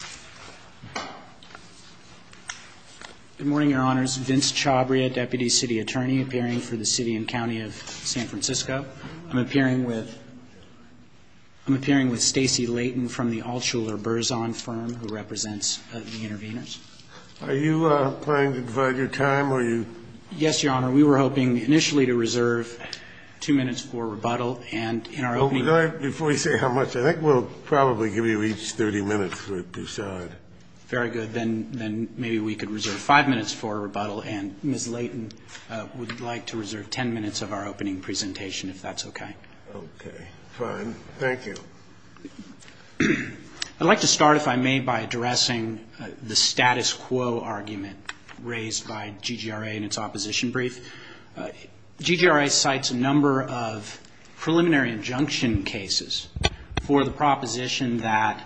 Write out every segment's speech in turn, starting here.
Good morning, Your Honors. Vince Chabria, Deputy City Attorney, appearing for the City and County of San Francisco. I'm appearing with Stacey Layton from the Altshuler-Burzon firm, who represents the interveners. Are you planning to divide your time? Yes, Your Honor. We were hoping initially to reserve two minutes for rebuttal. Before you say how much, I think we'll probably give you each 30 minutes to decide. Very good. Then maybe we could reserve five minutes for rebuttal. And Ms. Layton would like to reserve ten minutes of our opening presentation, if that's okay. Okay. Fine. Thank you. I'd like to start, if I may, by addressing the status quo argument raised by GGRA in its opposition brief. GGRA cites a number of preliminary injunction cases for the proposition that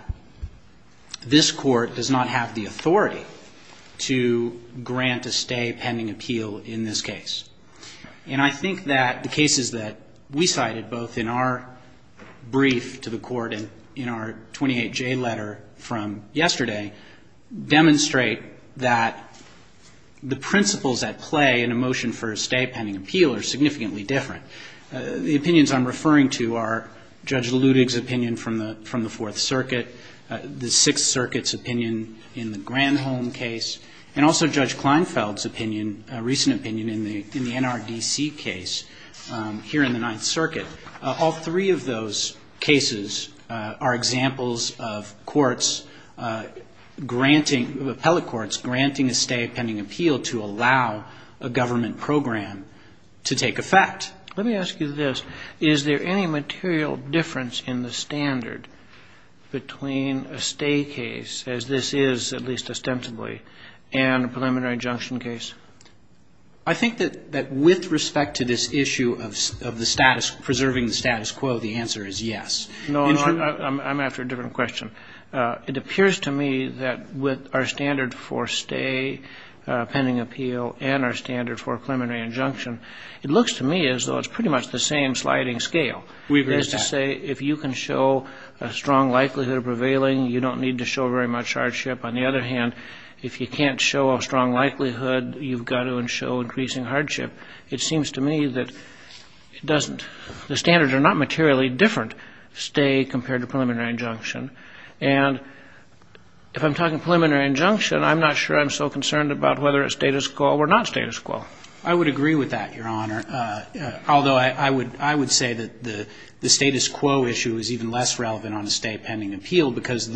this court does not have the authority to grant a stay pending appeal in this case. And I think that the cases that we cited, both in our brief to the Court and in our 28J letter from yesterday, demonstrate that the principles at play in a motion for a stay pending appeal are significantly different. The opinions I'm referring to are Judge Ludig's opinion from the Fourth Circuit, the Sixth Circuit's opinion in the Granholm case, and also Judge Kleinfeld's opinion, a recent opinion, in the NRDC case here in the Ninth Circuit. All three of those cases are examples of courts granting, of appellate courts granting a stay pending appeal to allow a government program to take effect. Let me ask you this. Is there any material difference in the standard between a stay case, as this is, at least ostensibly, and a preliminary injunction case? I think that with respect to this issue of the status, preserving the status quo, the answer is yes. No, I'm after a different question. It appears to me that with our standard for stay pending appeal and our standard for a preliminary injunction, it looks to me as though it's pretty much the same sliding scale. We agree. That is to say, if you can show a strong likelihood of prevailing, you don't need to show very much hardship. On the other hand, if you can't show a strong likelihood, you've got to show increasing hardship. It seems to me that it doesn't. The standards are not materially different, stay compared to preliminary injunction. And if I'm talking preliminary injunction, I'm not sure I'm so concerned about whether it's status quo or not status quo. I would agree with that, Your Honor. Although I would say that the status quo issue is even less relevant on a stay pending appeal because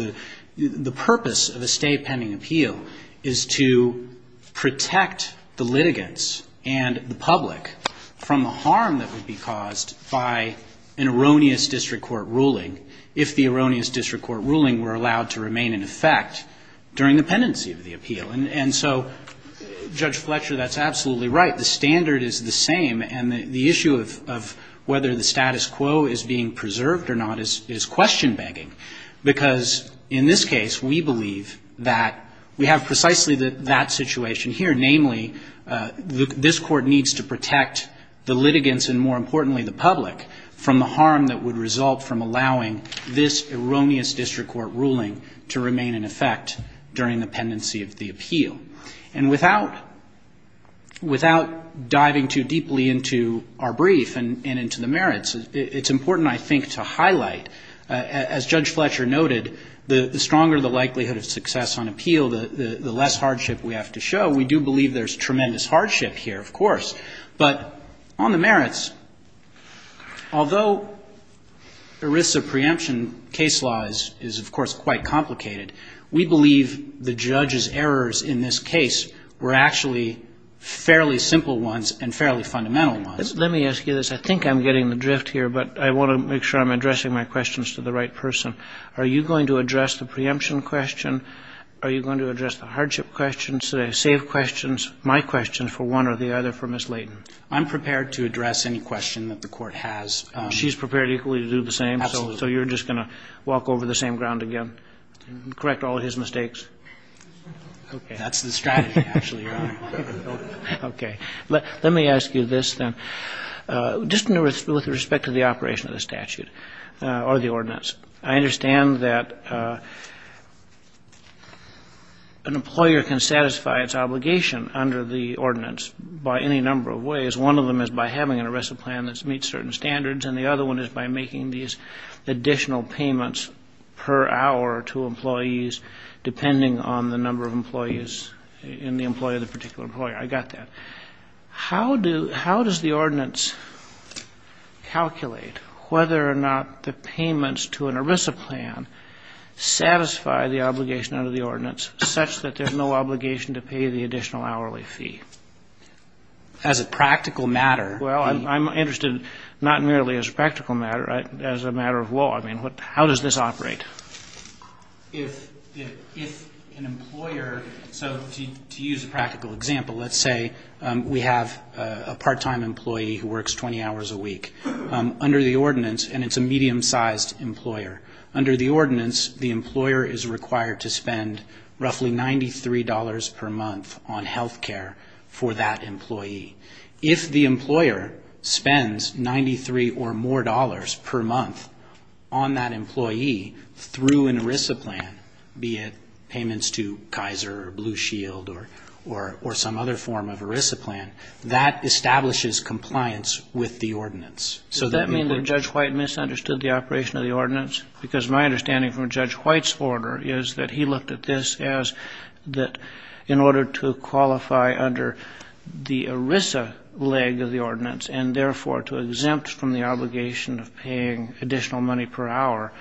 the purpose of a stay pending appeal is to protect the litigants and the public from the harm that would be caused by an erroneous district court ruling if the erroneous district court ruling were allowed to remain in effect during the pendency of the appeal. And so, Judge Fletcher, that's absolutely right. The standard is the same and the issue of whether the status quo is being preserved or not is question begging. Because in this case, we believe that we have precisely that situation here. Namely, this court needs to protect the litigants and, more importantly, the public from the harm that would result from allowing this erroneous district court ruling to remain in effect during the pendency of the appeal. And without diving too deeply into our brief and into the merits, it's important, I think, to highlight, as Judge Fletcher noted, the stronger the likelihood of success on appeal, the less hardship we have to show. We do believe there's tremendous hardship here, of course. But on the merits, although the risk of preemption case law is, of course, quite complicated, we believe the judge's errors in this case are actually fairly simple ones and fairly fundamental ones. Let me ask you this. I think I'm getting the drift here, but I want to make sure I'm addressing my questions to the right person. Are you going to address the preemption question? Are you going to address the hardship questions, the safe questions, my questions for one or the other for Ms. Layton? I'm prepared to address any question that the court has. She's prepared equally to do the same? Absolutely. So you're just going to walk over the same ground again and correct all his mistakes? That's the strategy, actually, Your Honor. Okay. Let me ask you this, then. Just with respect to the operation of the statute or the ordinance, I understand that an employer can satisfy its obligation under the ordinance by any number of ways. One of them is by having an arrest plan that meets certain standards, and the other one is by making these additional payments per hour to employees, depending on the number of employees and the employee of the particular employer. I got that. How does the ordinance calculate whether or not the payments to an ERISA plan satisfy the obligation under the ordinance, such that there's no obligation to pay the additional hourly fee? As a practical matter. Well, I'm interested not merely as a practical matter, as a matter of law. I mean, how does this operate? If an employer, so to use a practical example, let's say we have a part-time employee who works 20 hours a week. Under the ordinance, and it's a medium-sized employer, under the ordinance the employer is required to spend roughly $93 per month on health care for that employee. If the employer spends $93 or more per month on that employee through an ERISA plan, be it payments to Kaiser or Blue Shield or some other form of ERISA plan, that establishes compliance with the ordinance. Does that mean that Judge White misunderstood the operation of the ordinance? Because my understanding from Judge White's order is that he looked at this as that in order to qualify under the ERISA leg of the ordinance and, therefore, to exempt from the obligation of paying additional money per hour,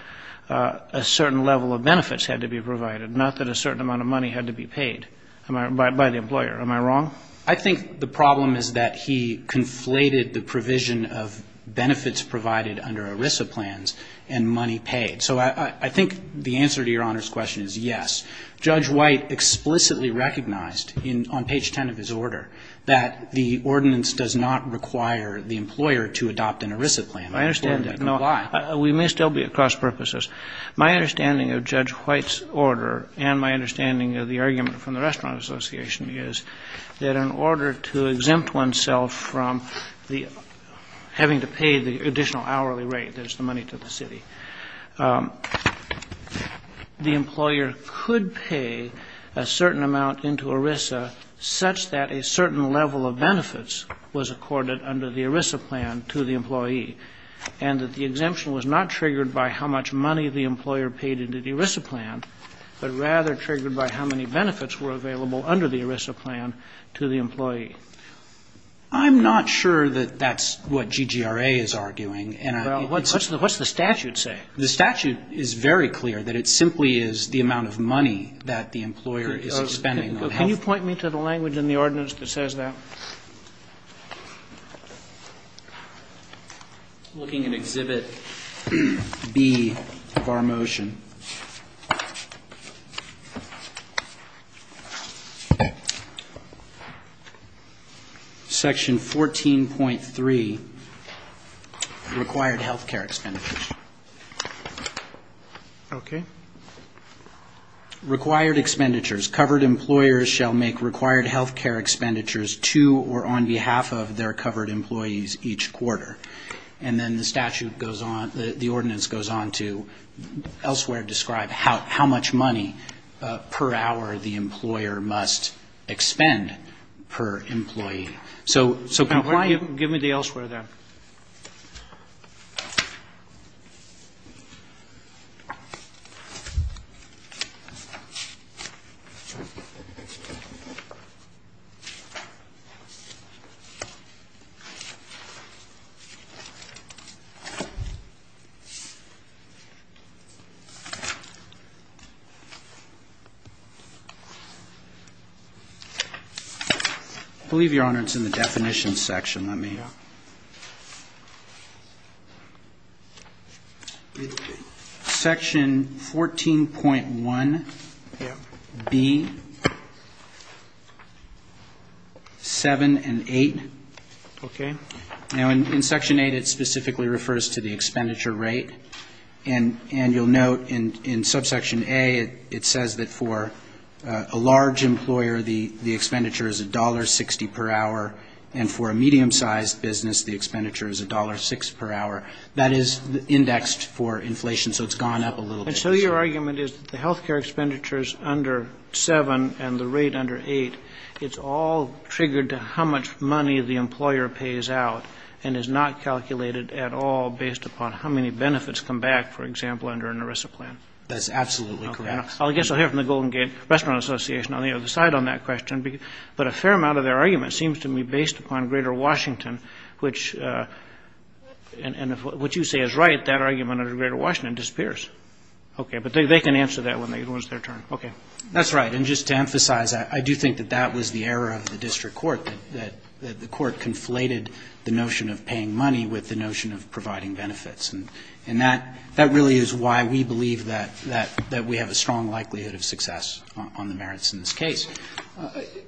a certain level of benefits had to be provided, not that a certain amount of money had to be paid by the employer. Am I wrong? I think the problem is that he conflated the provision of benefits provided under ERISA plans and money paid. So I think the answer to Your Honor's question is yes. Judge White explicitly recognized on page 10 of his order that the ordinance does not require the employer to adopt an ERISA plan. I understand that. We may still be at cross-purposes. My understanding of Judge White's order and my understanding of the argument from the Restaurant Association is that in order to exempt oneself from having to pay the additional hourly rate that is the money to the city, the employer could pay a certain amount into ERISA, such that a certain level of benefits was accorded under the ERISA plan to the employee, and that the exemption was not triggered by how much money the employer paid into the ERISA plan, but rather triggered by how many benefits were available under the ERISA plan to the employee. I'm not sure that that's what GGRA is arguing. What's the statute say? The statute is very clear that it simply is the amount of money that the employer is spending on health. Can you point me to the language in the ordinance that says that? Looking at Exhibit B of our motion. Okay. Section 14.3, required health care expenditures. Okay. Required expenditures. Covered employers shall make required health care expenditures to or on behalf of their covered employees each quarter. And then the statute goes on, the ordinance goes on to elsewhere describe how much money per hour the employer must expend per employee. So compliant. Give me the elsewhere there. I believe, Your Honor, it's in the definition section. Let me. Section 14.1B, 7 and 8. Okay. Now, in Section 8, it specifically refers to the expenditure rate. And you'll note in Subsection A, it says that for a large employer, the expenditure is $1.60 per hour, and for a medium-sized business, the expenditure is $1.06 per hour. That is indexed for inflation, so it's gone up a little bit. And so your argument is that the health care expenditures under 7 and the rate under 8, it's all triggered to how much money the employer pays out and is not calculated at all based upon how many benefits come back, for example, under an ERISA plan. That's absolutely correct. Okay. I guess I'll hear from the Golden Gate Restaurant Association on the other side on that question. But a fair amount of their argument seems to me based upon greater Washington, which, and if what you say is right, that argument under greater Washington disappears. Okay. But they can answer that when it's their turn. Okay. That's right. And just to emphasize, I do think that that was the error of the district court, that the court conflated the notion of paying money with the notion of providing benefits. And that really is why we believe that we have a strong likelihood of success on the merits in this case.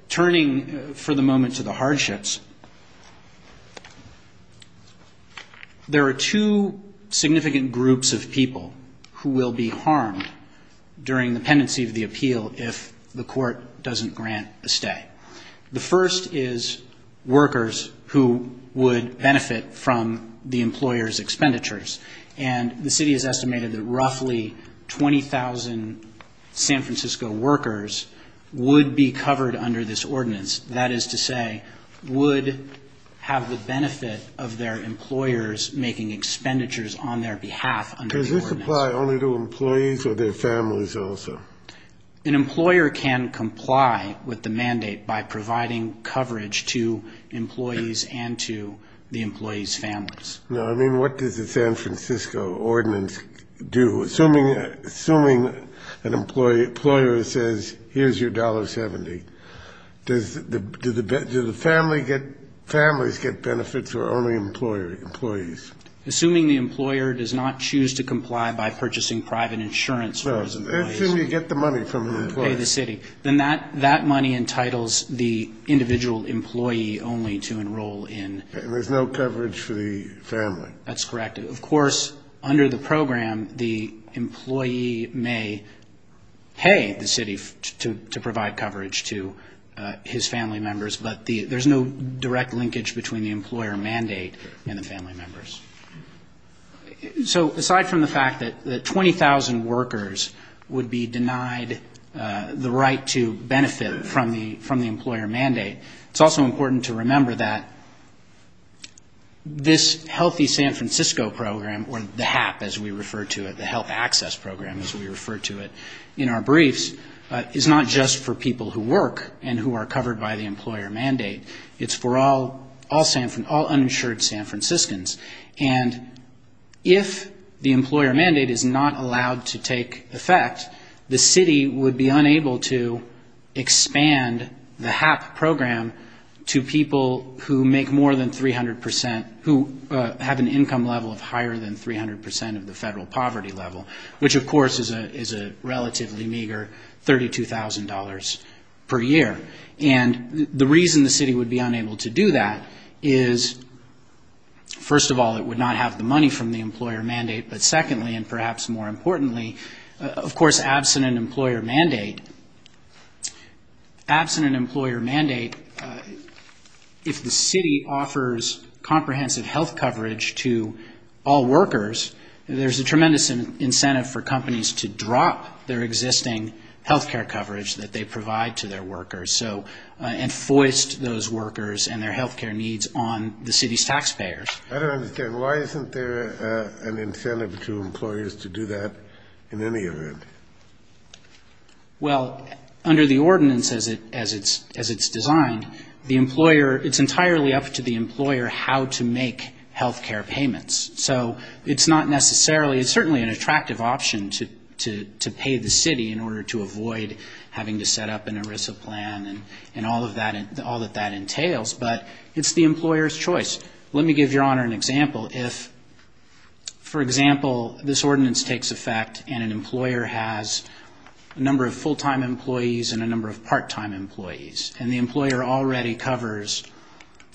Turning for the moment to the hardships, there are two significant groups of people who will be harmed during the pendency of the appeal if the court doesn't grant a stay. The first is workers who would benefit from the employer's expenditures. And the city has estimated that roughly 20,000 San Francisco workers would be covered under this ordinance. That is to say, would have the benefit of their employers making expenditures on their behalf under the ordinance. Do they comply only to employees or their families also? An employer can comply with the mandate by providing coverage to employees and to the employees' families. Now, I mean, what does the San Francisco ordinance do? Assuming an employer says, here's your $1.70, do the families get benefits or only employees? Assuming the employer does not choose to comply by purchasing private insurance for his employees. No. Assuming you get the money from the employer. Pay the city. Then that money entitles the individual employee only to enroll in. And there's no coverage for the family. That's correct. Of course, under the program, the employee may pay the city to provide coverage to his family members, but there's no direct linkage between the employer mandate and the family members. So aside from the fact that 20,000 workers would be denied the right to benefit from the employer mandate, it's also important to remember that this Healthy San Francisco program, or the HAP as we refer to it, the health access program as we refer to it in our briefs, is not just for people who work and who are covered by the employer mandate. It's for all uninsured San Franciscans. And if the employer mandate is not allowed to take effect, the city would be unable to expand the HAP program to people who make more than 300 percent, who have an income level of higher than 300 percent of the federal poverty level, which, of course, is a relatively meager $32,000 per year. And the reason the city would be unable to do that is, first of all, it would not have the money from the employer mandate. But secondly, and perhaps more importantly, of course, absent an employer mandate, absent an employer mandate, if the city offers comprehensive health coverage to all workers, there's a tremendous incentive for companies to drop their existing health care coverage that they provide to their workers and foist those workers and their health care needs on the city's taxpayers. I don't understand. Why isn't there an incentive to employers to do that in any event? Well, under the ordinance as it's designed, the employer, it's entirely up to the employer how to make health care payments. So it's not necessarily, it's certainly an attractive option to pay the city in order to avoid having to set up an ERISA plan and all that that entails. But it's the employer's choice. Let me give Your Honor an example. If, for example, this ordinance takes effect and an employer has a number of full-time employees and a number of part-time employees, and the employer already covers,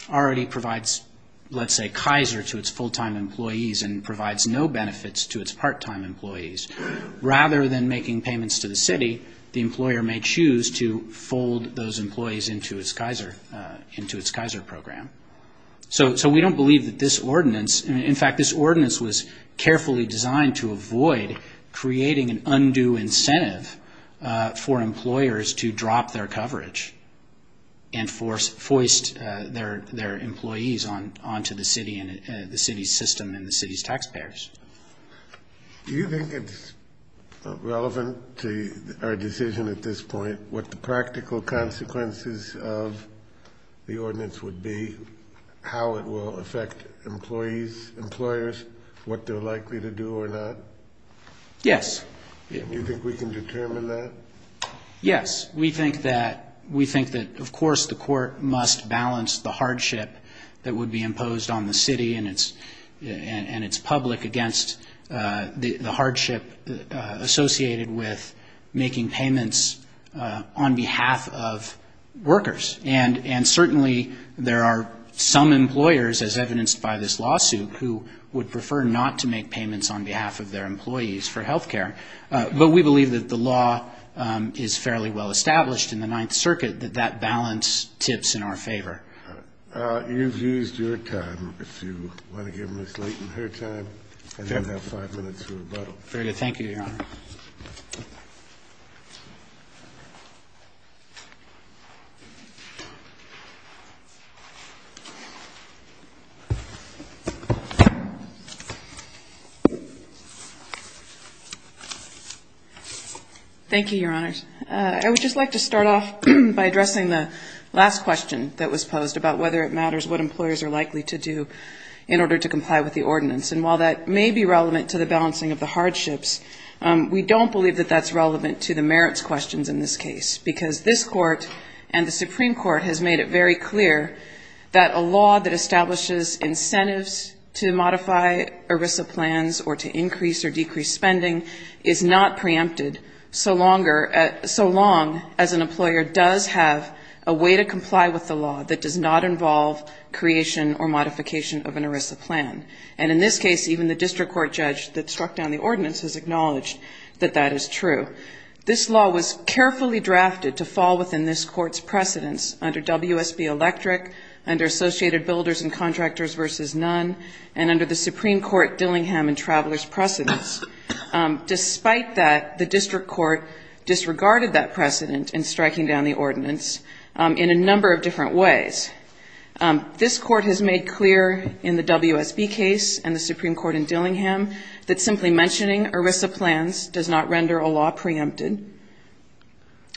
already provides, let's say, Kaiser to its full-time employees and provides no benefits to its part-time employees, rather than making payments to the city, the employer may choose to fold those employees into its Kaiser program. So we don't believe that this ordinance, in fact, this ordinance was carefully designed to avoid creating an undue incentive for employers to drop their coverage and foist their employees onto the city and the city's system and the city's taxpayers. Do you think it's relevant to our decision at this point what the practical consequences of the ordinance would be, how it will affect employees, employers, what they're likely to do or not? Yes. Do you think we can determine that? Yes. We think that, of course, the court must balance the hardship that would be imposed on the city and its public And certainly there are some employers, as evidenced by this lawsuit, who would prefer not to make payments on behalf of their employees for health care. But we believe that the law is fairly well established in the Ninth Circuit, that that balance tips in our favor. You've used your time. If you want to give Ms. Leighton her time and then have five minutes for rebuttal. Very good. Thank you, Your Honor. Thank you, Your Honors. I would just like to start off by addressing the last question that was posed about whether it matters what employers are likely to do in order to comply with the ordinance. And while that may be relevant to the balancing of the hardships, we don't believe that that's relevant to the merits questions in this case, because this Court and the Supreme Court has made it very clear that a law that establishes incentives to modify ERISA plans or to increase or decrease spending is not preempted so longer, so long as an employer does have a way to comply with the law that does not involve creation or modification of an ERISA plan. And in this case, even the district court judge that struck down the ordinance has acknowledged that that is true. This law was carefully drafted to fall within this court's precedence under WSB Electric, under Associated Builders and Contractors v. Nunn, and under the Supreme Court Dillingham and Travelers precedence. Despite that, the district court disregarded that precedent in striking down the ordinance in a number of different ways. This court has made clear in the WSB case and the Supreme Court in Dillingham that simply mentioning ERISA plans does not render a law preempted.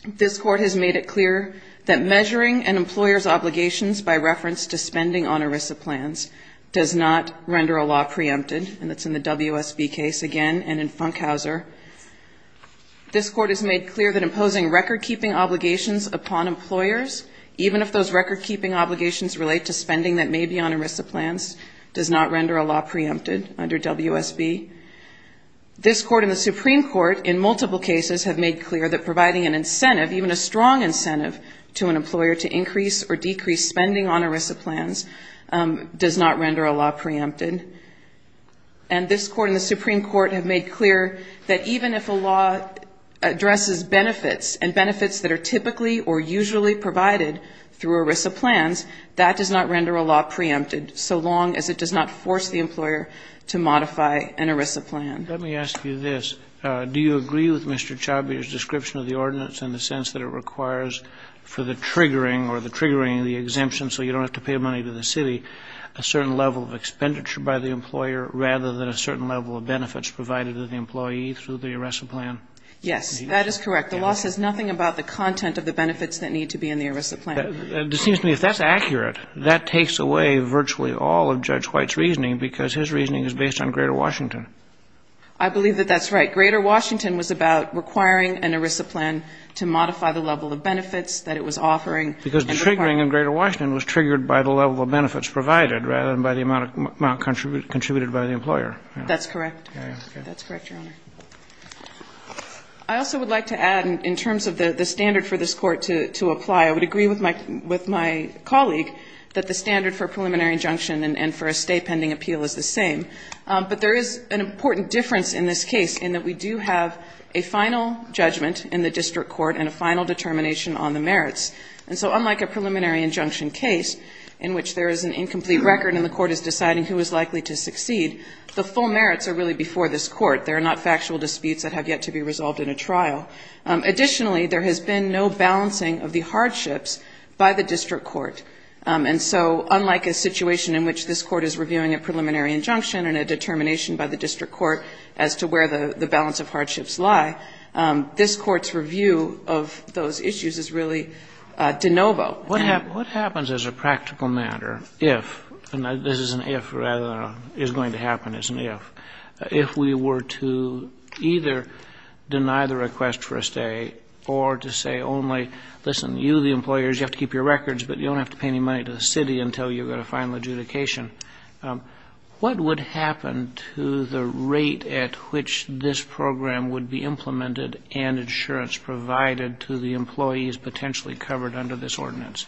This court has made it clear that measuring an employer's obligations by reference to spending on ERISA plans does not render a law preempted, and that's in the WSB case again and in Funkhauser. This court has made clear that imposing record-keeping obligations upon employers, even if those record-keeping obligations relate to spending that may be on ERISA plans, does not render a law preempted under WSB. This court and the Supreme Court, in multiple cases, have made clear that providing an incentive, even a strong incentive, to an employer to increase or decrease spending on ERISA plans does not render a law preempted. And this court and the Supreme Court have made clear that even if a law addresses benefits and benefits that are typically or usually provided through ERISA plans, that does not render a law preempted so long as it does not force the employer to modify an ERISA plan. Let me ask you this. Do you agree with Mr. Chabia's description of the ordinance in the sense that it requires for the triggering or the triggering of the exemption so you don't have to pay money to the city a certain level of expenditure by the employer rather than a certain level of benefits provided to the employee through the ERISA plan? Yes, that is correct. The law says nothing about the content of the benefits that need to be in the ERISA plan. It seems to me if that's accurate, that takes away virtually all of Judge White's reasoning because his reasoning is based on Greater Washington. I believe that that's right. Greater Washington was about requiring an ERISA plan to modify the level of benefits that it was offering. Because the triggering in Greater Washington was triggered by the level of benefits provided rather than by the amount contributed by the employer. That's correct. That's correct, Your Honor. I also would like to add in terms of the standard for this Court to apply, I would agree with my colleague that the standard for a preliminary injunction and for a state pending appeal is the same. But there is an important difference in this case in that we do have a final judgment in the district court and a final determination on the merits. And so unlike a preliminary injunction case in which there is an incomplete record and the court is deciding who is likely to succeed, the full merits are really before this Court. They are not factual disputes that have yet to be resolved in a trial. Additionally, there has been no balancing of the hardships by the district court. And so unlike a situation in which this Court is reviewing a preliminary injunction and a determination by the district court as to where the balance of hardships lie, this Court's review of those issues is really de novo. What happens as a practical matter if, and this is an if rather than a is going to either deny the request for a stay or to say only, listen, you, the employers, you have to keep your records, but you don't have to pay any money to the city until you've got a final adjudication. What would happen to the rate at which this program would be implemented and insurance provided to the employees potentially covered under this ordinance?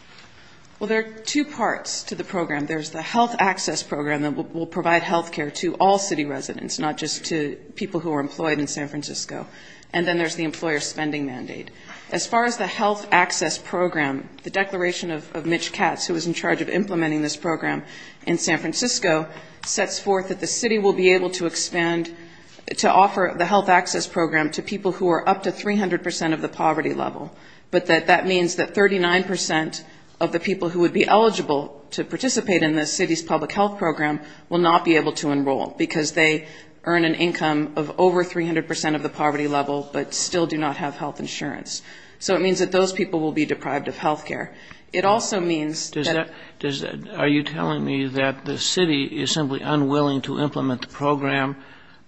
Well, there are two parts to the program. There's the health access program that will provide health care to all city residents, not just to people who are employed in San Francisco. And then there's the employer spending mandate. As far as the health access program, the declaration of Mitch Katz, who was in charge of implementing this program in San Francisco, sets forth that the city will be able to expand, to offer the health access program to people who are up to 300 percent of the poverty level, but that that means that 39 percent of the people who would be eligible to participate in the city's public health program will not be able to enroll because they earn an income of over 300 percent of the poverty level, but still do not have health insurance. So it means that those people will be deprived of health care. It also means that... Are you telling me that the city is simply unwilling to implement the program,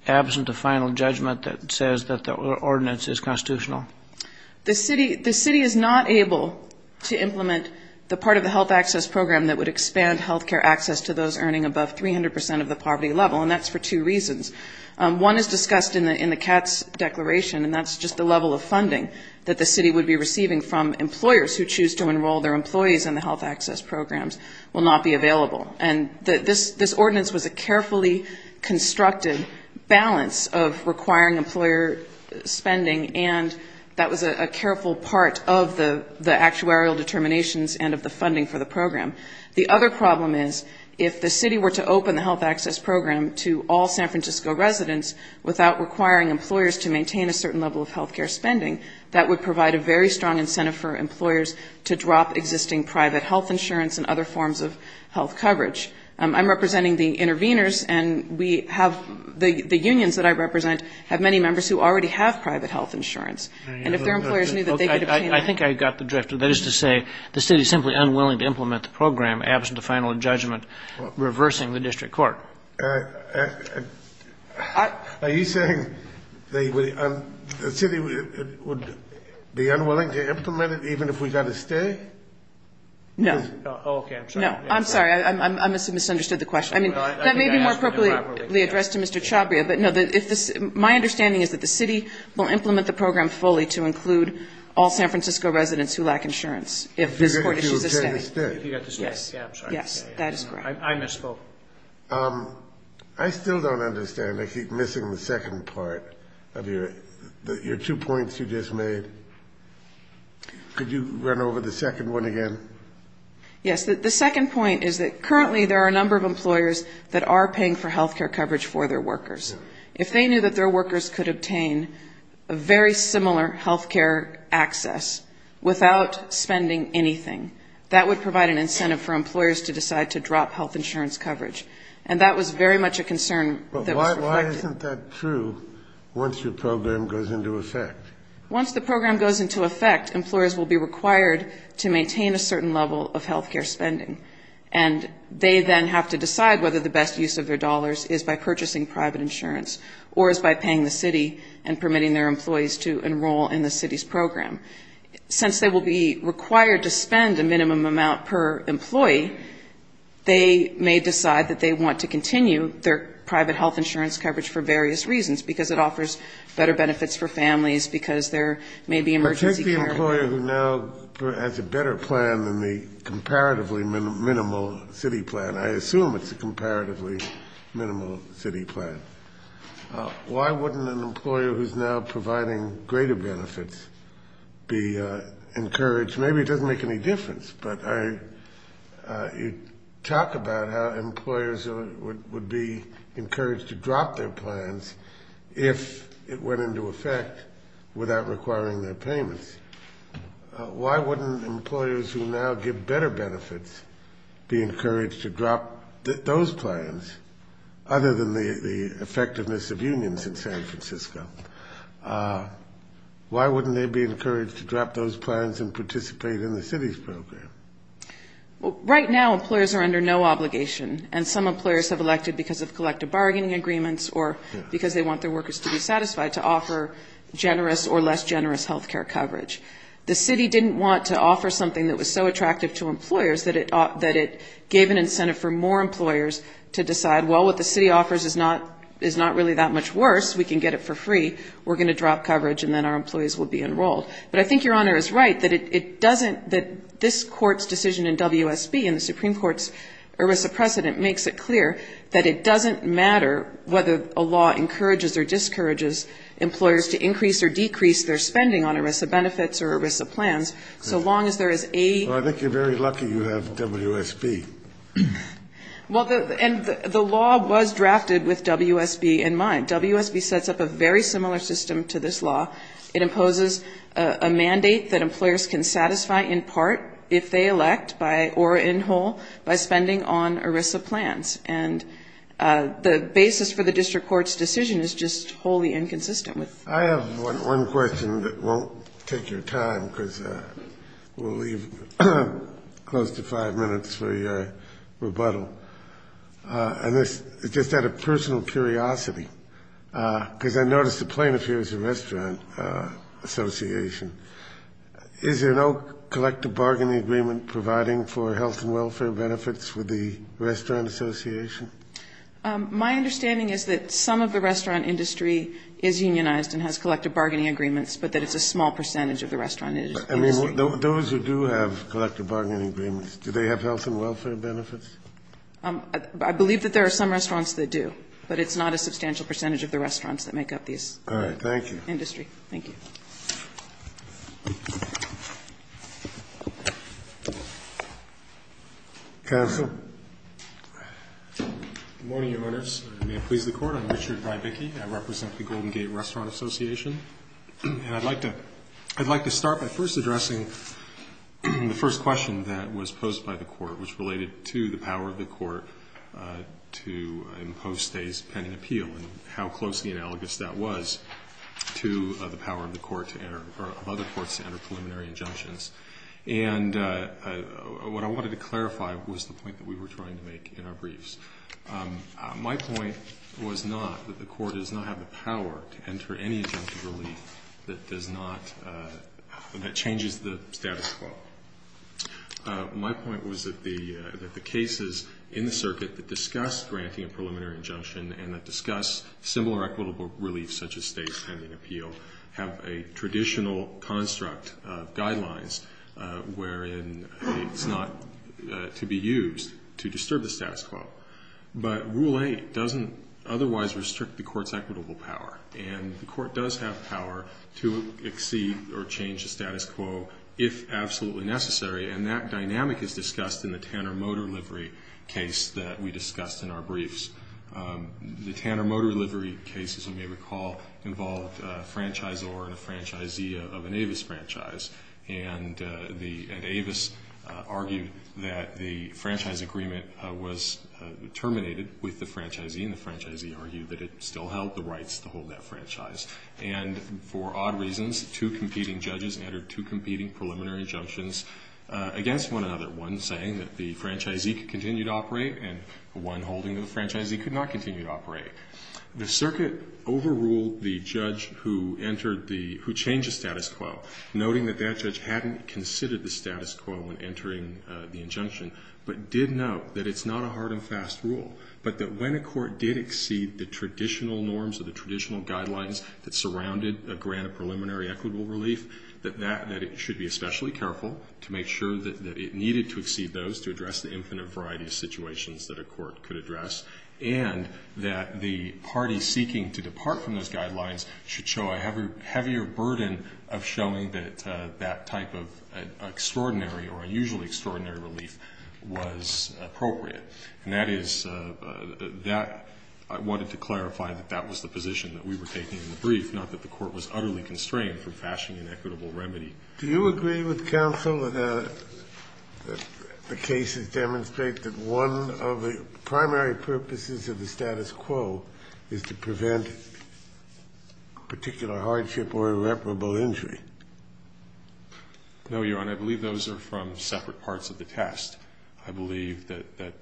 absent a final judgment that says that the ordinance is constitutional? The city is not able to implement the part of the health access program that would expand health care access to those earning above 300 percent of the poverty level, and that's for two reasons. One is discussed in the Katz declaration, and that's just the level of funding that the city would be receiving from employers who choose to enroll their employees in the health access programs will not be available. And this ordinance was a carefully constructed balance of requiring employer spending, and that was a careful part of the actuarial determinations and of the funding for the program. The other problem is if the city were to open the health access program to all San Francisco residents without requiring employers to maintain a certain level of health care spending, that would provide a very strong incentive for employers to drop existing private health insurance and other forms of health coverage. I'm representing the interveners, and we have the unions that I represent have many members who already have private health insurance, and if their employers knew that they could obtain it. I think I got the drift. That is to say the city is simply unwilling to implement the program absent the final judgment reversing the district court. Are you saying the city would be unwilling to implement it even if we got to stay? No. Oh, okay. I'm sorry. I must have misunderstood the question. I mean, that may be more appropriately addressed to Mr. Chabria, but my understanding is that the city will implement the program fully to include all San Francisco residents who lack insurance if this court issues a stay. If you get to stay. If you get to stay. Yes. Yes. That is correct. I misspoke. I still don't understand. I keep missing the second part of your two points you just made. Could you run over the second one again? Yes. The second point is that currently there are a number of employers that are paying for health care coverage for their workers. If they knew that their workers could obtain a very similar health care access without spending anything, that would provide an incentive for employers to decide to drop health insurance coverage, and that was very much a concern that was reflected. But why isn't that true once your program goes into effect? Once the program goes into effect, employers will be required to maintain a certain level of health care spending, and they then have to decide whether the best use of their dollars is by purchasing private insurance or is by paying the city and permitting their employees to enroll in the city's program. Since they will be required to spend a minimum amount per employee, they may decide that they want to continue their private health insurance coverage for various reasons, because it offers better benefits for families, because there may be emergency care. An employer who now has a better plan than the comparatively minimal city plan, I assume it's a comparatively minimal city plan, why wouldn't an employer who's now providing greater benefits be encouraged? Maybe it doesn't make any difference, but you talk about how employers would be encouraged to drop their plans if it went into effect without requiring their payments. Why wouldn't employers who now give better benefits be encouraged to drop those plans, other than the effectiveness of unions in San Francisco? Why wouldn't they be encouraged to drop those plans and participate in the city's program? Well, right now employers are under no obligation, and some employers have elected because of collective bargaining agreements or because they want their workers to be satisfied, to offer generous or less generous health care coverage. The city didn't want to offer something that was so attractive to employers that it gave an incentive for more employers to decide, well, what the city offers is not really that much worse. We can get it for free. We're going to drop coverage and then our employees will be enrolled. But I think Your Honor is right that it doesn't, that this Court's decision in WSB and the Supreme Court's ERISA precedent makes it clear that it doesn't matter whether a law encourages or discourages employers to increase or decrease their spending on ERISA benefits or ERISA plans, so long as there is a ---- Well, I think you're very lucky you have WSB. Well, and the law was drafted with WSB in mind. WSB sets up a very similar system to this law. It imposes a mandate that employers can satisfy in part if they elect by, or in whole, by spending on ERISA plans. And the basis for the district court's decision is just wholly inconsistent. I have one question that won't take your time because we'll leave close to five minutes for your rebuttal. And it's just out of personal curiosity, because I noticed the plaintiff here is a restaurant association. Is there no collective bargaining agreement providing for health and welfare benefits with the restaurant association? My understanding is that some of the restaurant industry is unionized and has collective bargaining agreements, but that it's a small percentage of the restaurant industry. I mean, those who do have collective bargaining agreements, do they have health and welfare benefits? I believe that there are some restaurants that do, but it's not a substantial percentage of the restaurants that make up these. All right. Thank you. Counsel. Good morning, Your Honors. May it please the Court. I'm Richard Rybicki. I represent the Golden Gate Restaurant Association. And I'd like to start by first addressing the first question that was posed by the Court, which related to the power of the Court to impose today's pending appeal and how close the analogous that was to the question that was posed by the plaintiff. And what I wanted to clarify was the point that we were trying to make in our briefs. My point was not that the Court does not have the power to enter any injunctive relief that changes the status quo. My point was that the cases in the circuit that discuss granting a preliminary injunction and that discuss similar equitable relief, such as state's pending appeal, have a traditional construct of guidelines wherein it's not to be used to disturb the status quo. But Rule 8 doesn't otherwise restrict the Court's equitable power, and the Court does have power to exceed or change the status quo if absolutely necessary. And that dynamic is discussed in the Tanner-Motor Livery case that we discussed in our briefs. The Tanner-Motor Livery case, as you may recall, involved a franchisor and a franchisee of an Avis franchise. And Avis argued that the franchise agreement was terminated with the franchisee, and the franchisee argued that it still held the rights to hold that franchise. And for odd reasons, two competing judges entered two competing preliminary injunctions against one another, one saying that the franchisee could continue to operate and one holding that the franchisee could not continue to operate. The circuit overruled the judge who changed the status quo, noting that that judge hadn't considered the status quo when entering the injunction, but did note that it's not a hard and fast rule, but that when a court did exceed the traditional norms or the traditional guidelines that surrounded a grant of preliminary equitable relief, that it should be especially careful to make sure that it needed to exceed those to address the infinite variety of situations that a court could address, and that the parties seeking to depart from those guidelines should show a heavier burden of showing that that type of extraordinary or unusually extraordinary relief was appropriate. And that is that I wanted to clarify that that was the position that we were taking in the brief, not that the court was utterly constrained from fashioning an equitable remedy. Do you agree with counsel that the cases demonstrate that one of the primary purposes of the status quo is to prevent particular hardship or irreparable injury? No, Your Honor. I believe those are from separate parts of the test. I believe that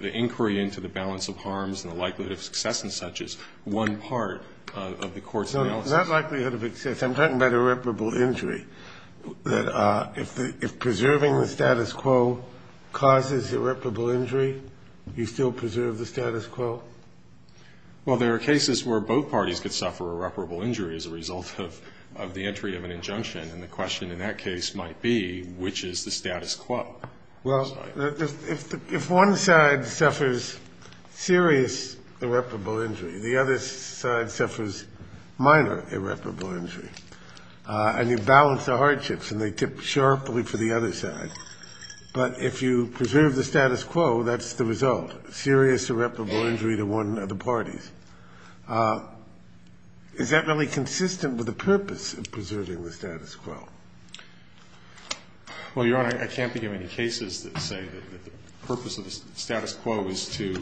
the inquiry into the balance of harms and the likelihood of success and such is one part of the court's analysis. So not likelihood of success. I'm talking about irreparable injury, that if preserving the status quo causes irreparable injury, you still preserve the status quo? Well, there are cases where both parties could suffer irreparable injury as a result of the entry of an injunction. And the question in that case might be which is the status quo. Well, if one side suffers serious irreparable injury, the other side suffers minor irreparable injury, and you balance the hardships and they tip sharply for the other side, but if you preserve the status quo, that's the result, serious irreparable injury to one of the parties. Is that really consistent with the purpose of preserving the status quo? Well, Your Honor, I can't think of any cases that say that the purpose of the status quo is to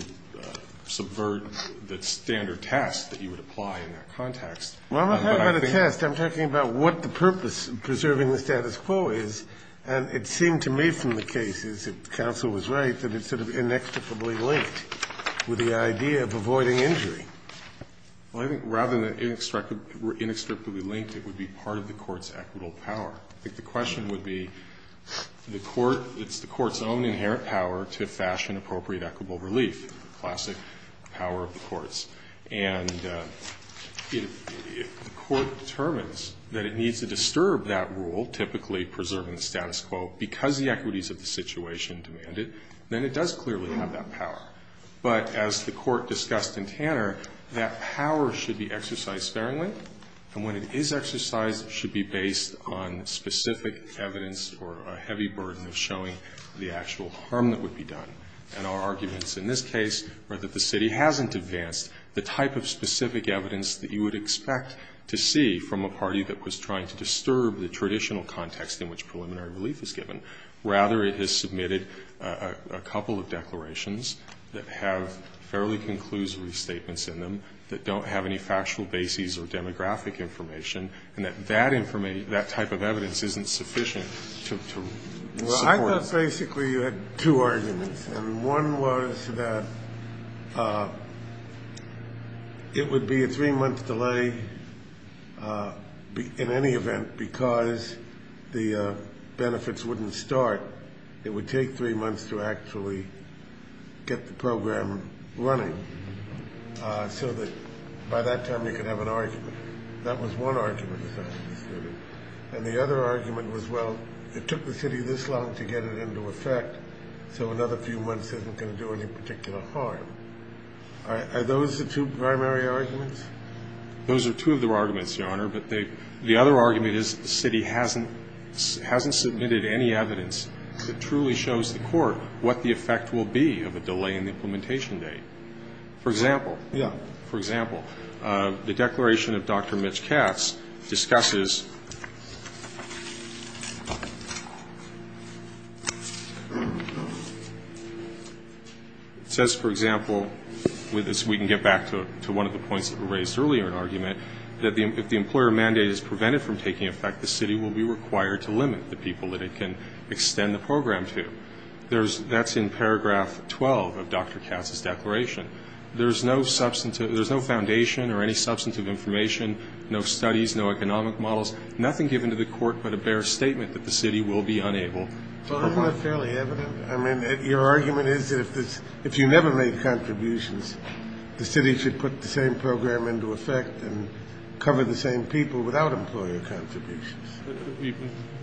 subvert the standard test that you would apply in that context. Well, I'm not talking about a test. I'm talking about what the purpose of preserving the status quo is. And it seemed to me from the cases that counsel was right that it's sort of inextricably linked with the idea of avoiding injury. Well, I think rather than inextricably linked, it would be part of the court's equitable power. I think the question would be the court, it's the court's own inherent power to fashion appropriate equitable relief, classic power of the courts. And if the court determines that it needs to disturb that rule, typically preserving the status quo, because the equities of the situation demand it, then it does clearly have that power. But as the Court discussed in Tanner, that power should be exercised sparingly. And when it is exercised, it should be based on specific evidence or a heavy burden of showing the actual harm that would be done. And our arguments in this case are that the city hasn't advanced the type of specific evidence that you would expect to see from a party that was trying to disturb the traditional context in which preliminary relief is given. Rather, it has submitted a couple of declarations that have fairly conclusive statements in them that don't have any factual bases or demographic information, and that that type of evidence isn't sufficient to support it. Well, I thought basically you had two arguments. And one was that it would be a three-month delay in any event because the benefits wouldn't start. It would take three months to actually get the program running so that by that time you could have an argument. That was one argument, as I understood it. And the other argument was, well, it took the city this long to get it into effect, so another few months isn't going to do any particular harm. Are those the two primary arguments? Those are two of the arguments, Your Honor. But the other argument is the city hasn't submitted any evidence that truly shows the court what the effect will be of a delay in the implementation date. For example, for example, the declaration of Dr. Mitch Katz discusses says, for example, we can get back to one of the points that were raised earlier in the argument, that if the employer mandate is prevented from taking effect, the city will be required to limit the people that it can extend the program to. That's in paragraph 12 of Dr. Katz's declaration. There's no foundation or any substantive information, no studies, no economic models, nothing given to the court but a bare statement that the city will be unable to provide. Well, isn't that fairly evident? I mean, your argument is that if you never make contributions, the city should put the same program into effect and cover the same people without employer contributions.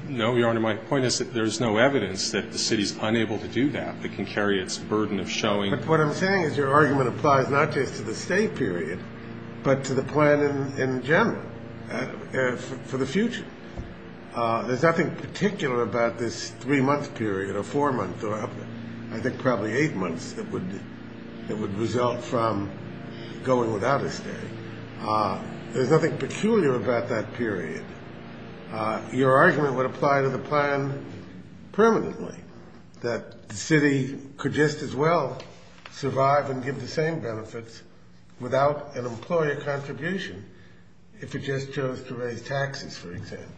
No, Your Honor. My point is that there's no evidence that the city's unable to do that, that can carry its burden of showing. But what I'm saying is your argument applies not just to the stay period but to the plan in general for the future. There's nothing particular about this three-month period or four-month or I think probably eight months that would result from going without a stay. There's nothing peculiar about that period. Your argument would apply to the plan permanently, that the city could just as well survive and give the same benefits without an employer contribution if it just chose to raise taxes, for example.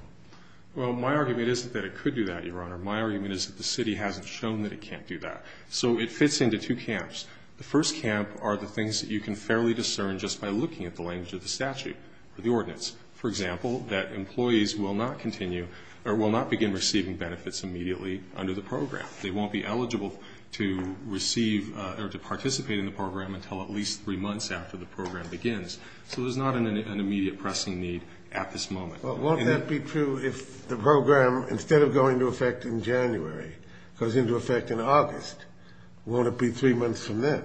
Well, my argument isn't that it could do that, Your Honor. My argument is that the city hasn't shown that it can't do that. So it fits into two camps. The first camp are the things that you can fairly discern just by looking at the language of the statute or the ordinance. For example, that employees will not continue or will not begin receiving benefits immediately under the program. They won't be eligible to receive or to participate in the program until at least three months after the program begins. So there's not an immediate pressing need at this moment. Well, won't that be true if the program, instead of going into effect in January, goes into effect in August? Won't it be three months from then?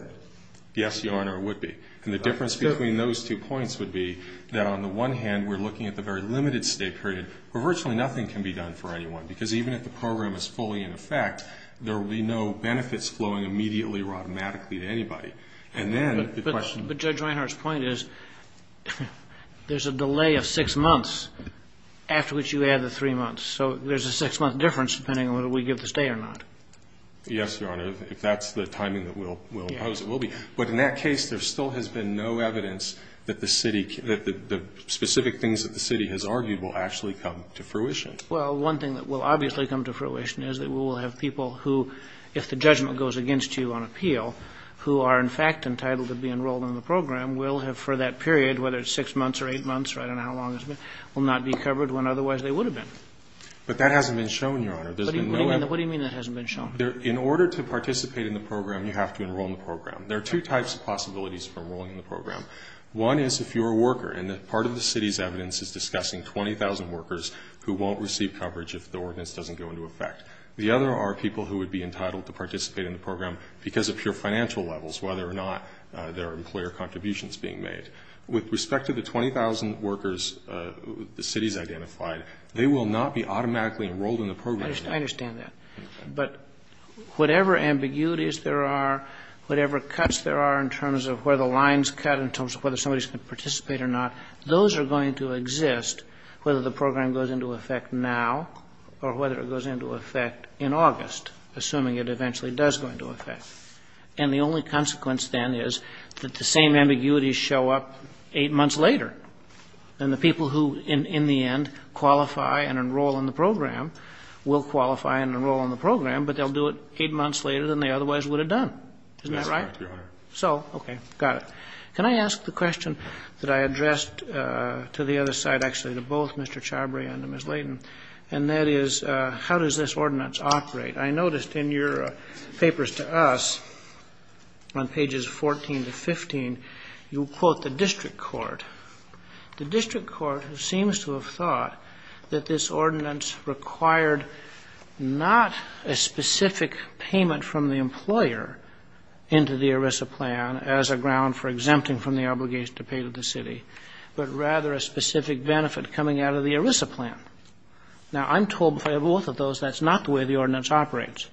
Yes, Your Honor, it would be. And the difference between those two points would be that on the one hand, we're looking at the very limited stay period where virtually nothing can be done for anyone, because even if the program is fully in effect, there will be no benefits flowing immediately or automatically to anybody. And then the question of the program. after which you add the three months. So there's a six-month difference depending on whether we give the stay or not. Yes, Your Honor, if that's the timing that we'll impose, it will be. But in that case, there still has been no evidence that the specific things that the city has argued will actually come to fruition. Well, one thing that will obviously come to fruition is that we will have people who, if the judgment goes against you on appeal, who are in fact entitled to be enrolled in the program will have for that period, whether it's six months or eight months or I don't know how long it's been, will not be covered when otherwise they would have been. But that hasn't been shown, Your Honor. What do you mean that hasn't been shown? In order to participate in the program, you have to enroll in the program. There are two types of possibilities for enrolling in the program. One is if you're a worker, and part of the city's evidence is discussing 20,000 workers who won't receive coverage if the ordinance doesn't go into effect. The other are people who would be entitled to participate in the program because of pure financial levels, whether or not there are employer contributions being made. With respect to the 20,000 workers the city's identified, they will not be automatically enrolled in the program. I understand that. But whatever ambiguities there are, whatever cuts there are in terms of where the lines cut in terms of whether somebody's going to participate or not, those are going to exist whether the program goes into effect now or whether it goes into effect in August, assuming it eventually does go into effect. And the only consequence then is that the same ambiguities show up eight months later. And the people who, in the end, qualify and enroll in the program will qualify and enroll in the program, but they'll do it eight months later than they otherwise would have done. Isn't that right? Yes, Your Honor. So, okay. Got it. Can I ask the question that I addressed to the other side, actually to both Mr. Chabry and to Ms. Layton, and that is how does this ordinance operate? I noticed in your papers to us, on pages 14 to 15, you quote the district court. The district court seems to have thought that this ordinance required not a specific payment from the employer into the ERISA plan as a ground for exempting from the obligation to pay to the city, but rather a specific benefit coming out of the ERISA plan. Now, I'm told by both of those that's not the way the ordinance operates.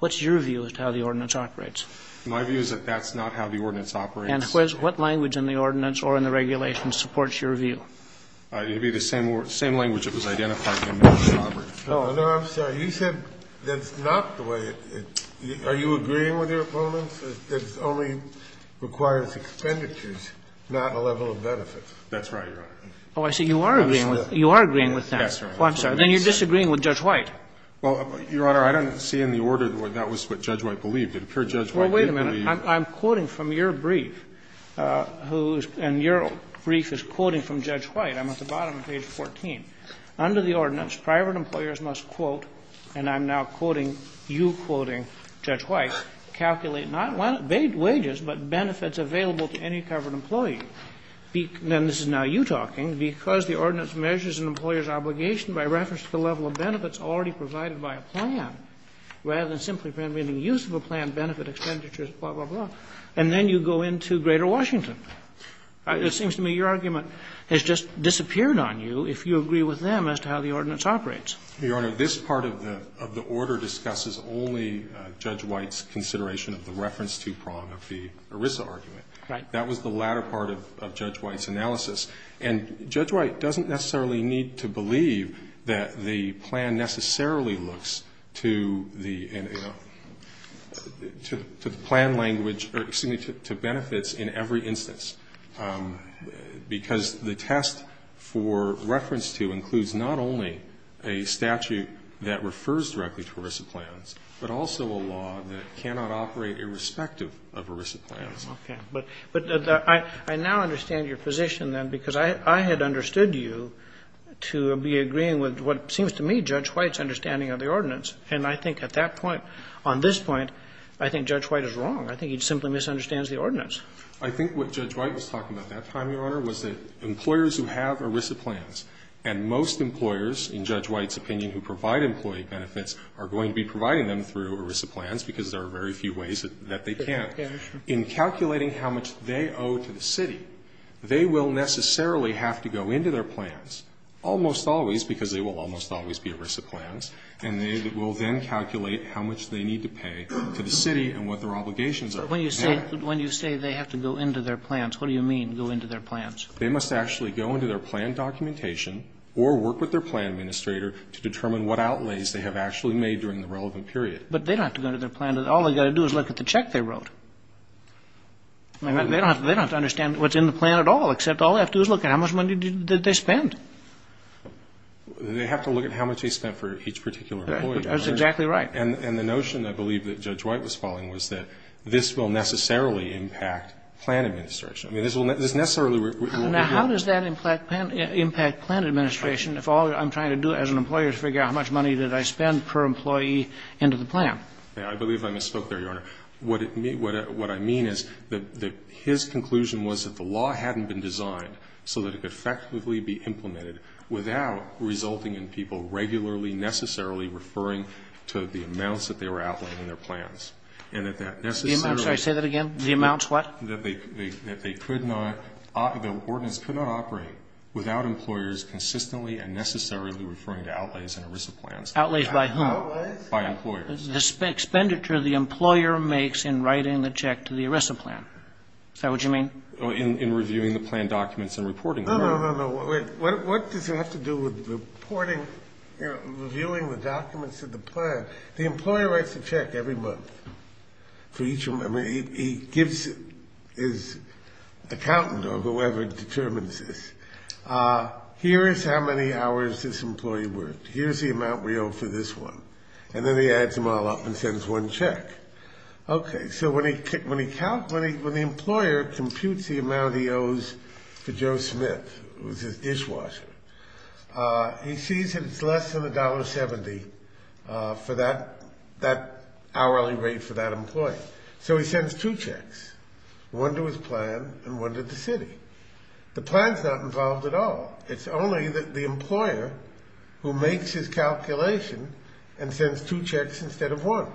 What's your view as to how the ordinance operates? My view is that that's not how the ordinance operates. And what language in the ordinance or in the regulations supports your view? It would be the same language that was identified in Ms. Chabry. No, no, I'm sorry. You said that's not the way it – are you agreeing with your opponents, that it only requires expenditures, not a level of benefit? That's right, Your Honor. Oh, I see. You are agreeing with that. Oh, I'm sorry. Then you're disagreeing with Judge White. Well, Your Honor, I don't see in the order that that was what Judge White believed. It appeared Judge White didn't believe. Well, wait a minute. I'm quoting from your brief, and your brief is quoting from Judge White. I'm at the bottom of page 14. Under the ordinance, private employers must quote, and I'm now quoting you quoting Judge White, calculate not wages, but benefits available to any covered employee. Then this is now you talking, because the ordinance measures an employer's obligation by reference to the level of benefits already provided by a plan, rather than simply permitting use of a plan, benefit expenditures, blah, blah, blah. And then you go into Greater Washington. It seems to me your argument has just disappeared on you if you agree with them as to how the ordinance operates. Your Honor, this part of the order discusses only Judge White's consideration of the reference two prong of the ERISA argument. That was the latter part of Judge White's analysis. And Judge White doesn't necessarily need to believe that the plan necessarily looks to the plan language or, excuse me, to benefits in every instance, because the test for reference two includes not only a statute that refers directly to ERISA plans, but also a law that cannot operate irrespective of ERISA plans. Okay. But I now understand your position, then, because I had understood you to be agreeing with what seems to me Judge White's understanding of the ordinance. And I think at that point, on this point, I think Judge White is wrong. I think he simply misunderstands the ordinance. I think what Judge White was talking about that time, Your Honor, was that employers who have ERISA plans, and most employers, in Judge White's opinion, who provide employee benefits are going to be providing them through ERISA plans because there are very few ways that they can. In calculating how much they owe to the city, they will necessarily have to go into their plans almost always, because they will almost always be ERISA plans, and they will then calculate how much they need to pay to the city and what their obligations are. When you say they have to go into their plans, what do you mean, go into their plans? They must actually go into their plan documentation or work with their plan administrator to determine what outlays they have actually made during the relevant period. But they don't have to go into their plan. All they've got to do is look at the check they wrote. They don't have to understand what's in the plan at all, except all they have to do is look at how much money did they spend. They have to look at how much they spent for each particular employee. That's exactly right. And the notion, I believe, that Judge White was following was that this will necessarily impact plan administration. I mean, this will necessarily... Now, how does that impact plan administration if all I'm trying to do as an employer is figure out how much money did I spend per employee into the plan? I believe I misspoke there, Your Honor. What I mean is that his conclusion was that the law hadn't been designed so that it could effectively be implemented without resulting in people regularly, necessarily referring to the amounts that they were outlaying in their plans. And that that necessarily... I'm sorry. Say that again. The amounts what? That they could not, the ordinance could not operate without employers consistently and necessarily referring to outlays in ERISA plans. Outlays by whom? Outlays? By employers. The expenditure the employer makes in writing the check to the ERISA plan. Is that what you mean? In reviewing the plan documents and reporting them. No, no, no, no. What does it have to do with reporting, reviewing the documents of the plan? The employer writes a check every month for each of them. I mean, he gives his accountant or whoever determines this. Here is how many hours this employee worked. Here's the amount we owe for this one. And then he adds them all up and sends one check. Okay, so when he counts, when the employer computes the amount he owes to Joe Smith, who's his dishwasher, he sees that it's less than $1.70 for that hourly rate for that employee. So he sends two checks. One to his plan and one to the city. The plan's not involved at all. It's only the employer who makes his calculation and sends two checks instead of one.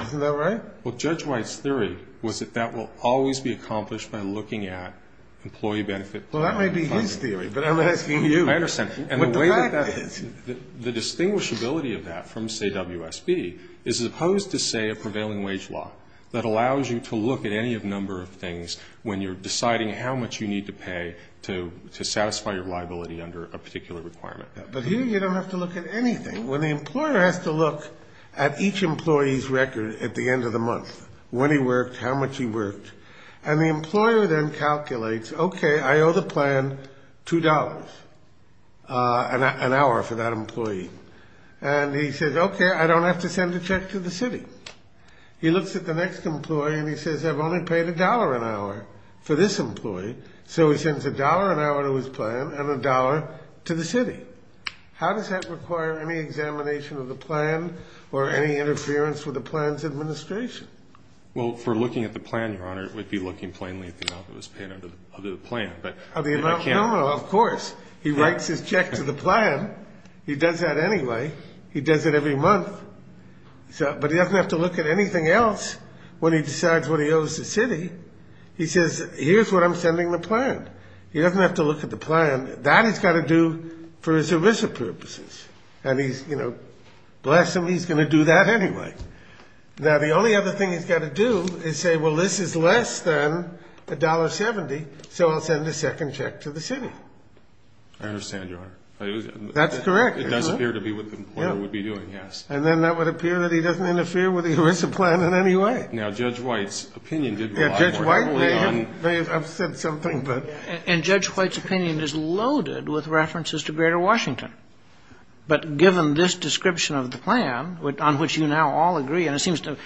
Isn't that right? Well, Judge White's theory was that that will always be accomplished by looking at employee benefit. Well, that may be his theory, but I'm asking you. I understand. And the way that that is, the distinguishability of that from, say, WSB, is opposed to, say, a prevailing wage law that allows you to look at any number of things when you're deciding how much you need to pay to satisfy your liability under a particular requirement. But here you don't have to look at anything. When the employer has to look at each employee's record at the end of the month, when he worked, how much he worked, and the employer then calculates, okay, I owe the plan $2 an hour for that employee. And he says, okay, I don't have to send a check to the city. He looks at the next employee and he says, I've only paid $1 an hour for this employee. So he sends $1 an hour to his plan and $1 to the city. How does that require any examination of the plan or any interference with the plan's administration? Well, for looking at the plan, Your Honor, it would be looking plainly at the amount that was paid under the plan. Of the amount? No, no, of course. He writes his check to the plan. He does that anyway. He does it every month. But he doesn't have to look at anything else when he decides what he owes the city. He says, here's what I'm sending the plan. He doesn't have to look at the plan. That he's got to do for his ERISA purposes. And he's, you know, bless him, he's going to do that anyway. Now, the only other thing he's got to do is say, well, this is less than $1.70, so I'll send a second check to the city. I understand, Your Honor. That's correct. It does appear to be what the employer would be doing, yes. And then that would appear that he doesn't interfere with the ERISA plan in any way. Now, Judge White's opinion did rely heavily on. Judge White may have said something, but. And Judge White's opinion is loaded with references to Greater Washington. But given this description of the plan, on which you now all agree, and it seems to,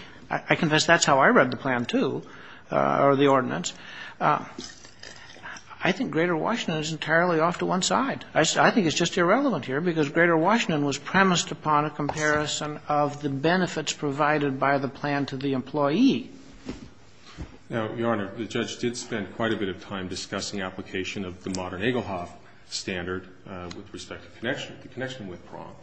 I confess that's how I read the plan too, or the ordinance. I think Greater Washington is entirely off to one side. I think it's just irrelevant here, because Greater Washington was premised upon a comparison of the benefits provided by the plan to the employee. Now, Your Honor, the judge did spend quite a bit of time discussing application of the modern Egelhoff standard with respect to connection. The connection went wrong.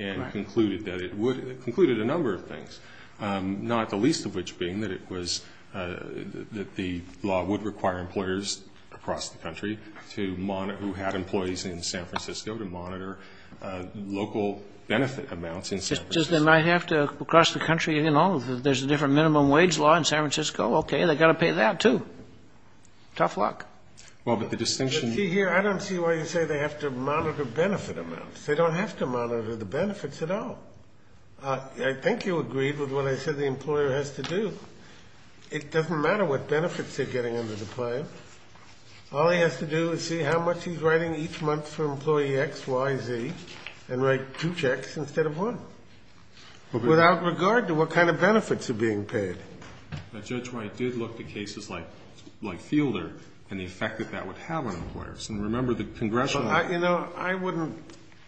Right. And concluded that it would. It concluded a number of things. Not the least of which being that it was, that the law would require employers across the country to monitor, who had employees in San Francisco, to monitor local benefit amounts in San Francisco. Just they might have to, across the country, you know, there's a different minimum wage law in San Francisco. Okay, they've got to pay that too. Tough luck. Well, but the distinction. But see here, I don't see why you say they have to monitor benefit amounts. They don't have to monitor the benefits at all. I think you agreed with what I said the employer has to do. It doesn't matter what benefits they're getting under the plan. All he has to do is see how much he's writing each month for employee X, Y, Z, and write two checks instead of one. Without regard to what kind of benefits are being paid. But Judge White did look at cases like Fielder and the effect that that would have on employers. And remember the congressional. You know, I wouldn't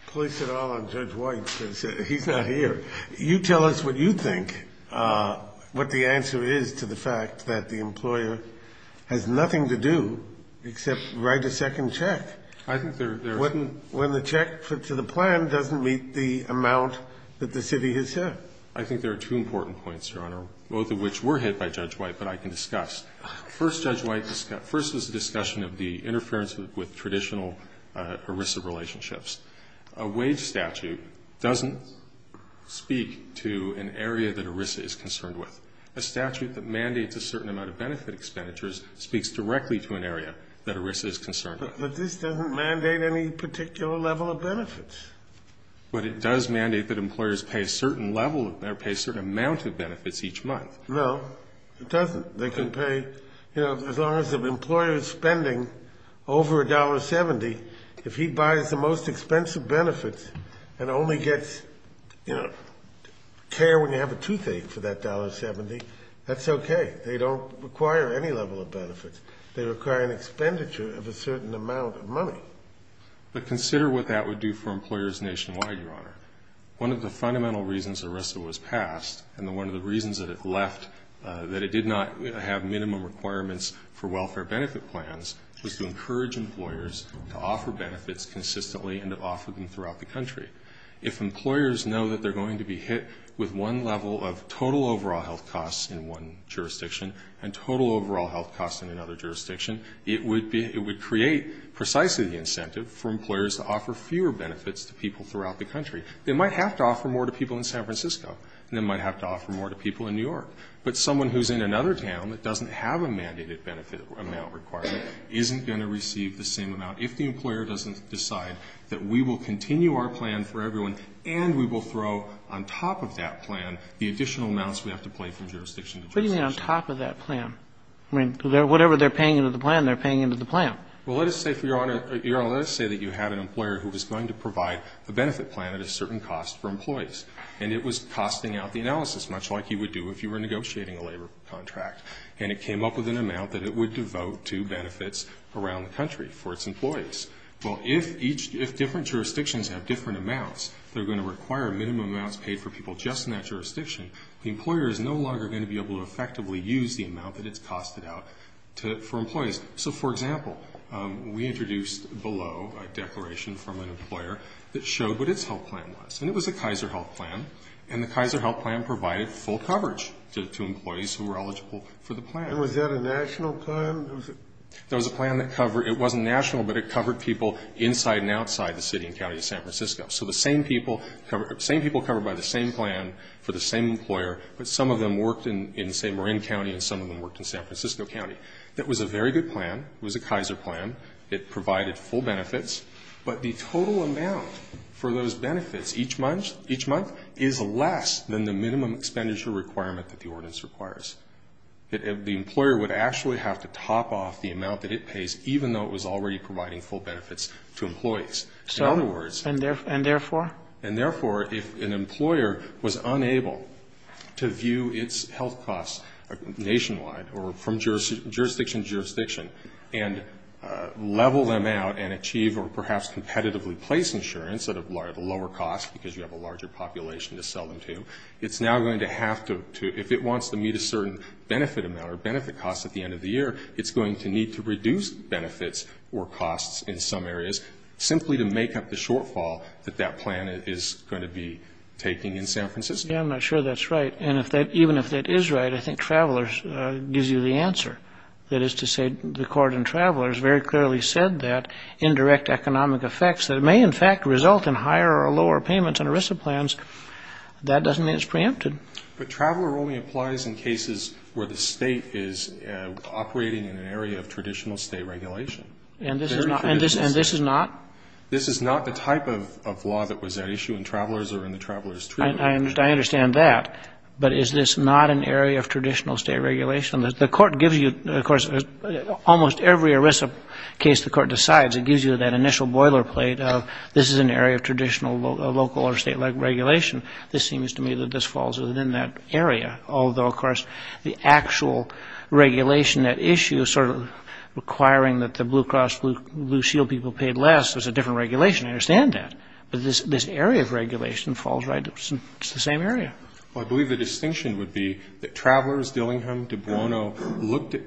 place it all on Judge White because he's not here. You tell us what you think, what the answer is to the fact that the employer has nothing to do except write a second check. I think there's. When the check to the plan doesn't meet the amount that the city has set. I think there are two important points, Your Honor, both of which were hit by Judge White, but I can discuss. First, Judge White discussed, first was the discussion of the interference with traditional ERISA relationships. A wage statute doesn't speak to an area that ERISA is concerned with. A statute that mandates a certain amount of benefit expenditures speaks directly to an area that ERISA is concerned with. But this doesn't mandate any particular level of benefits. But it does mandate that employers pay a certain level or pay a certain amount of benefits each month. No, it doesn't. They can pay, you know, as long as the employer is spending over $1.70. If he buys the most expensive benefits and only gets, you know, care when you have a toothache for that $1.70, that's okay. They don't require any level of benefits. They require an expenditure of a certain amount of money. But consider what that would do for employers nationwide, Your Honor. One of the fundamental reasons ERISA was passed and one of the reasons that it left, that it did not have minimum requirements for welfare benefit plans, was to encourage employers to offer benefits consistently and to offer them throughout the country. If employers know that they're going to be hit with one level of total overall health costs in one jurisdiction and total overall health costs in another jurisdiction, it would create precisely the incentive for employers to offer fewer benefits to people throughout the country. They might have to offer more to people in San Francisco, and they might have to offer more to people in New York. But someone who's in another town that doesn't have a mandated benefit amount requirement isn't going to receive the same amount. If the employer doesn't decide that we will continue our plan for everyone and we will throw on top of that plan the additional amounts we have to pay from jurisdiction to jurisdiction. I mean, whatever they're paying into the plan, they're paying into the plan. Well, let us say, Your Honor, let us say that you had an employer who was going to provide a benefit plan at a certain cost for employees, and it was costing out the analysis, much like you would do if you were negotiating a labor contract. And it came up with an amount that it would devote to benefits around the country for its employees. Well, if each, if different jurisdictions have different amounts, they're going to require minimum amounts paid for people just in that jurisdiction, the employer is no longer going to be able to effectively use the amount that it's costed out for employees. So, for example, we introduced below a declaration from an employer that showed what its health plan was. And it was a Kaiser health plan, and the Kaiser health plan provided full coverage to employees who were eligible for the plan. And was that a national plan? That was a plan that covered, it wasn't national, but it covered people inside and outside the city and county of San Francisco. So the same people covered by the same plan for the same employer, but some of them worked in, say, Marin County and some of them worked in San Francisco County. That was a very good plan. It was a Kaiser plan. It provided full benefits. But the total amount for those benefits each month is less than the minimum expenditure requirement that the ordinance requires. The employer would actually have to top off the amount that it pays, even though it was already providing full benefits to employees. In other words. And therefore? And therefore, if an employer was unable to view its health costs nationwide or from jurisdiction to jurisdiction and level them out and achieve or perhaps competitively place insurance at a lower cost, because you have a larger population to sell them to, it's now going to have to, if it wants to meet a certain benefit amount or benefit cost at the end of the year, it's going to need to reduce benefits or costs in some areas, simply to make up the shortfall that that plan is going to be taking in San Francisco. Yeah, I'm not sure that's right. And even if that is right, I think Travelers gives you the answer. That is to say, the court in Travelers very clearly said that indirect economic effects that may in fact result in higher or lower payments in ERISA plans, that doesn't mean it's preempted. But Traveler only applies in cases where the State is operating in an area of traditional State regulation. And this is not? This is not the type of law that was at issue in Travelers or in the Travelers Treaty. I understand that. But is this not an area of traditional State regulation? The court gives you, of course, almost every ERISA case the court decides, it gives you that initial boilerplate of this is an area of traditional local or State regulation. This seems to me that this falls within that area. Although, of course, the actual regulation at issue is sort of requiring that the Blue Cross Blue Shield people paid less. There's a different regulation. I understand that. But this area of regulation falls right into the same area. Well, I believe the distinction would be that Travelers, Dillingham, De Bruno, looked at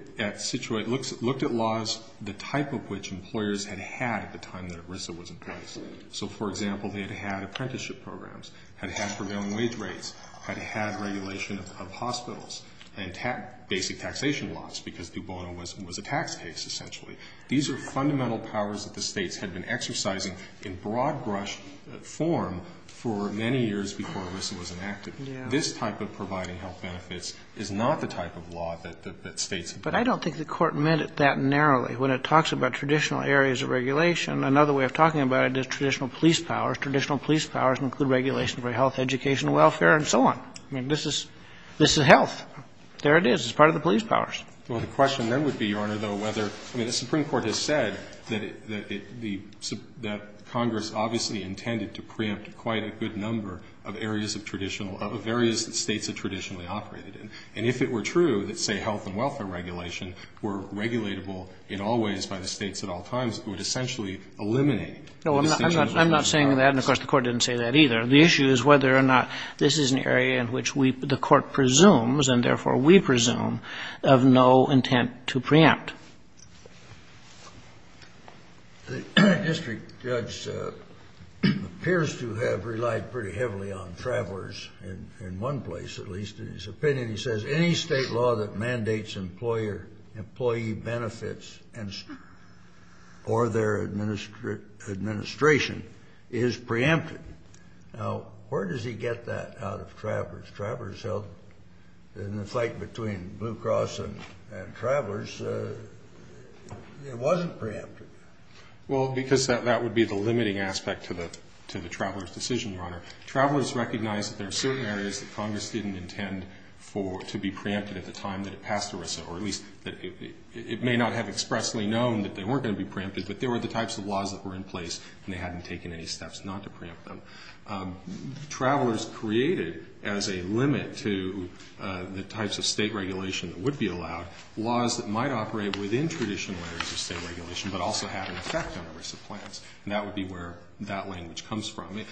laws the type of which employers had had at the time that ERISA was in place. So, for example, they had had apprenticeship programs, had had prevailing wage rates, had had regulation of hospitals, and basic taxation laws, because De Bruno was a tax case, essentially. These are fundamental powers that the States had been exercising in broad-brush form for many years before ERISA was enacted. This type of providing health benefits is not the type of law that States have done. But I don't think the court meant it that narrowly. When it talks about traditional areas of regulation, another way of talking about it is traditional police powers. Traditional police powers include regulations for health, education, welfare, and so on. I mean, this is health. There it is. It's part of the police powers. Well, the question then would be, Your Honor, though, whether, I mean, the Supreme Court has said that Congress obviously intended to preempt quite a good number of areas of traditional, of areas that States had traditionally operated in. And if it were true that, say, health and welfare regulation were regulatable in all ways by the States at all times, it would essentially eliminate the distinction between those powers. No, I'm not saying that. And, of course, the court didn't say that either. The issue is whether or not this is an area in which we, the court presumes, and therefore we presume, of no intent to preempt. The district judge appears to have relied pretty heavily on travelers in one place, at least, in his opinion. And he says any State law that mandates employee benefits or their administration is preempted. Now, where does he get that out of travelers? Travelers held, in the fight between Blue Cross and travelers, it wasn't preempted. Well, because that would be the limiting aspect to the traveler's decision, Your Honor. Travelers recognized that there are certain areas that Congress didn't intend to be preempted at the time that it passed ERISA, or at least that it may not have expressly known that they weren't going to be preempted, but there were the types of laws that were in place and they hadn't taken any steps not to preempt them. Travelers created, as a limit to the types of State regulation that would be allowed, laws that might operate within traditional areas of State regulation, but also have an effect on ERISA plans. And that would be where that language comes from.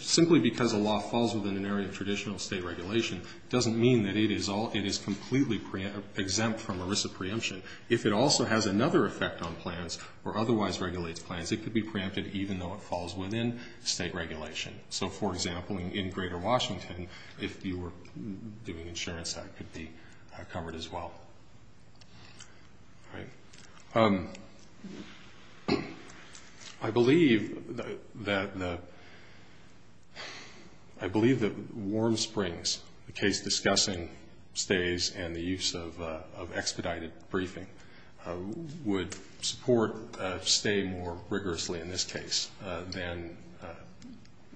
Simply because a law falls within an area of traditional State regulation doesn't mean that it is completely exempt from ERISA preemption. If it also has another effect on plans or otherwise regulates plans, it could be preempted even though it falls within State regulation. So, for example, in greater Washington, if you were doing insurance, that could be covered as well. All right. I believe that Warm Springs, the case discussing stays and the use of expedited briefing, would support stay more rigorously in this case,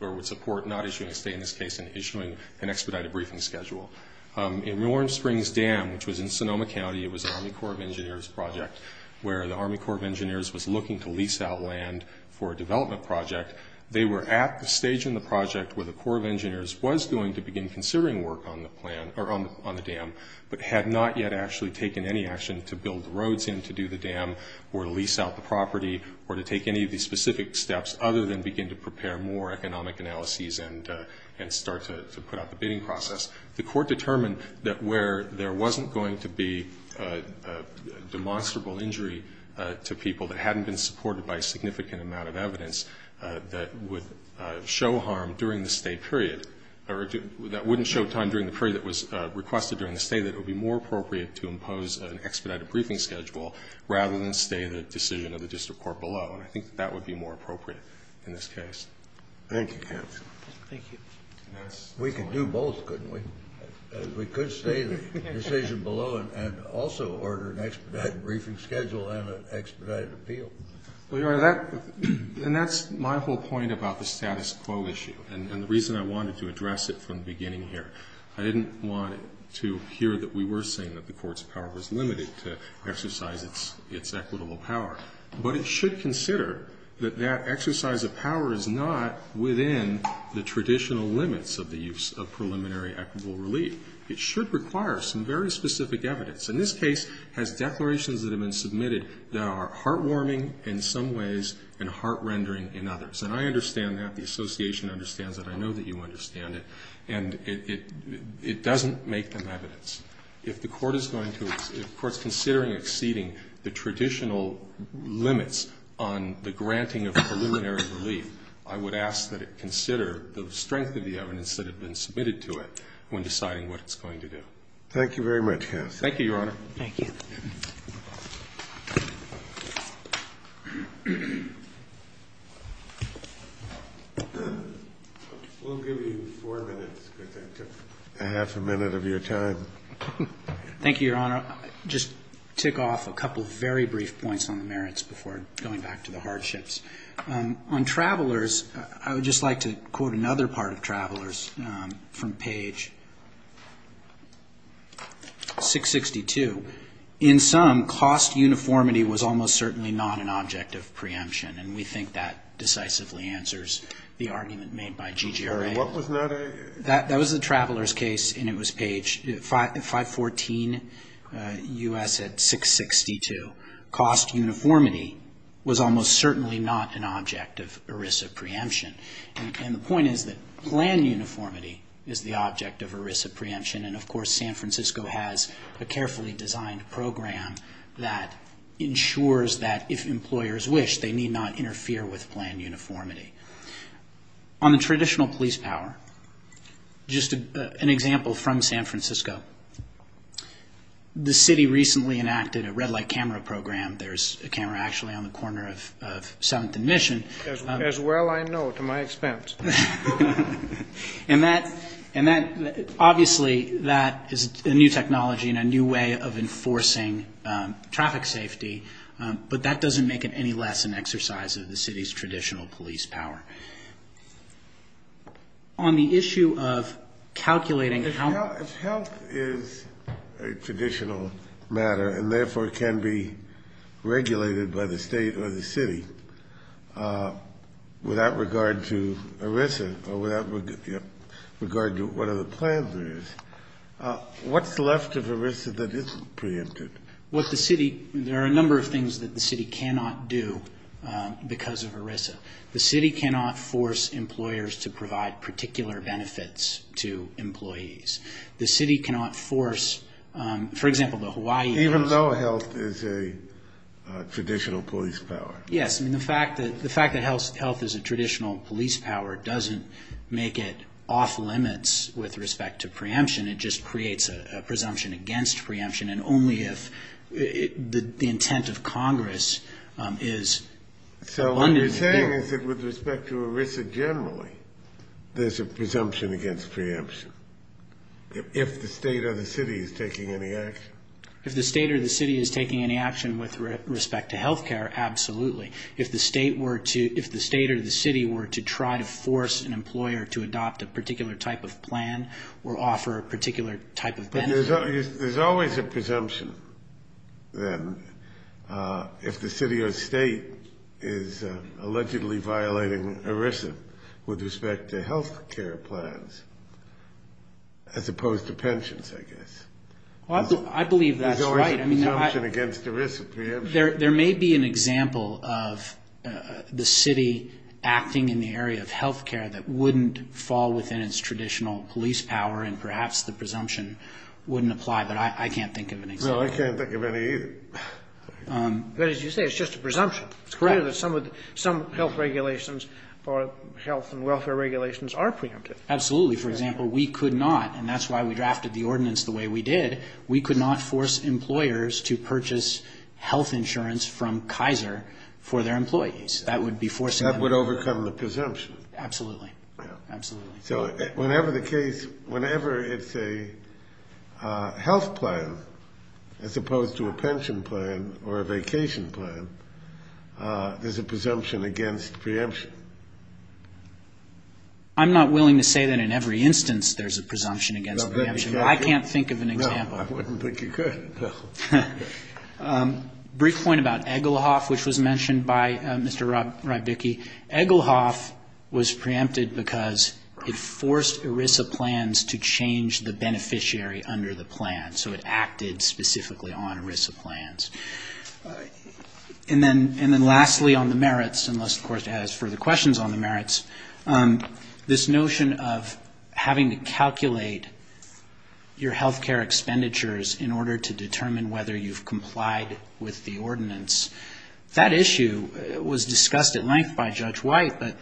or would support not issuing a stay in this case and issuing an expedited briefing schedule. In Warm Springs Dam, which was in Sonoma County, it was an Army Corps of Engineers project where the Army Corps of Engineers was looking to lease out land for a development project. They were at the stage in the project where the Corps of Engineers was going to begin considering work on the dam, but had not yet actually taken any action to build roads in to do the dam or to lease out the property or to take any of these specific steps other than begin to prepare more economic analyses and start to put out the bidding process. The Court determined that where there wasn't going to be a demonstrable injury to people that hadn't been supported by a significant amount of evidence that would show harm during the stay period, or that wouldn't show time during the period that was requested during the stay, that it would be more appropriate to impose an expedited briefing schedule rather than stay the decision of the district court below. And I think that would be more appropriate in this case. Thank you, counsel. Thank you. We could do both, couldn't we? We could stay the decision below and also order an expedited briefing schedule and an expedited appeal. Your Honor, that's my whole point about the status quo issue and the reason I wanted to address it from the beginning here. I didn't want to hear that we were saying that the court's power was limited to exercise its equitable power, but it should consider that that exercise of power is not within the traditional limits of the use of preliminary equitable relief. It should require some very specific evidence. And this case has declarations that have been submitted that are heartwarming in some ways and heart-rendering in others. And I understand that. The Association understands that. I know that you understand it. And it doesn't make them evidence. If the court's considering exceeding the traditional limits on the granting of preliminary relief, I would ask that it consider the strength of the evidence that had been submitted to it when deciding what it's going to do. Thank you very much, counsel. Thank you, Your Honor. Thank you. We'll give you four minutes because I took half a minute of your time. Thank you, Your Honor. I'll just tick off a couple of very brief points on the merits before going back to the hardships. On travelers, I would just like to quote another part of travelers from page 662. In sum, cost uniformity was almost certainly not an object of preemption. And we think that decisively answers the argument made by G.G. Ray. What was that? That was the travelers case, and it was page 514 U.S. 662. Cost uniformity was almost certainly not an object of ERISA preemption. And the point is that plan uniformity is the object of ERISA preemption. And, of course, San Francisco has a carefully designed program that ensures that if employers wish, they need not interfere with plan uniformity. On the traditional police power, just an example from San Francisco. The city recently enacted a red light camera program. There's a camera actually on the corner of 7th and Mission. As well I know, to my expense. And that obviously is a new technology and a new way of enforcing traffic safety, but that doesn't make it any less an exercise of the city's traditional police power. On the issue of calculating health. If health is a traditional matter and, therefore, can be regulated by the state or the city, without regard to ERISA or without regard to what other plans there is, what's left of ERISA that isn't preempted? There are a number of things that the city cannot do because of ERISA. The city cannot force employers to provide particular benefits to employees. The city cannot force, for example, the Hawaii. Even though health is a traditional police power. Yes. The fact that health is a traditional police power doesn't make it off limits with respect to preemption. It just creates a presumption against preemption, and only if the intent of Congress is abundant. So what you're saying is that with respect to ERISA generally, there's a presumption against preemption. If the state or the city is taking any action. With respect to health care, absolutely. If the state or the city were to try to force an employer to adopt a particular type of plan or offer a particular type of benefit. There's always a presumption, then, if the city or state is allegedly violating ERISA with respect to health care plans, as opposed to pensions, I guess. I believe that's right. Presumption against ERISA preemption. There may be an example of the city acting in the area of health care that wouldn't fall within its traditional police power, and perhaps the presumption wouldn't apply, but I can't think of an example. No, I can't think of any either. But as you say, it's just a presumption. It's clear that some health regulations or health and welfare regulations are preemptive. Absolutely. For example, we could not, and that's why we drafted the ordinance the way we did. We could not force employers to purchase health insurance from Kaiser for their employees. That would be forcing them to. That would overcome the presumption. Absolutely. Absolutely. So whenever the case, whenever it's a health plan, as opposed to a pension plan or a vacation plan, there's a presumption against preemption. I'm not willing to say that in every instance there's a presumption against preemption. I can't think of an example. No, I wouldn't think you could. Brief point about Egelhoff, which was mentioned by Mr. Rybicki. Egelhoff was preempted because it forced ERISA plans to change the beneficiary under the plan, so it acted specifically on ERISA plans. And then lastly, on the merits, unless, of course, you have further questions on the merits, this notion of having to calculate your health care expenditures in order to determine whether you've complied with the ordinance, that issue was discussed at length by Judge White, but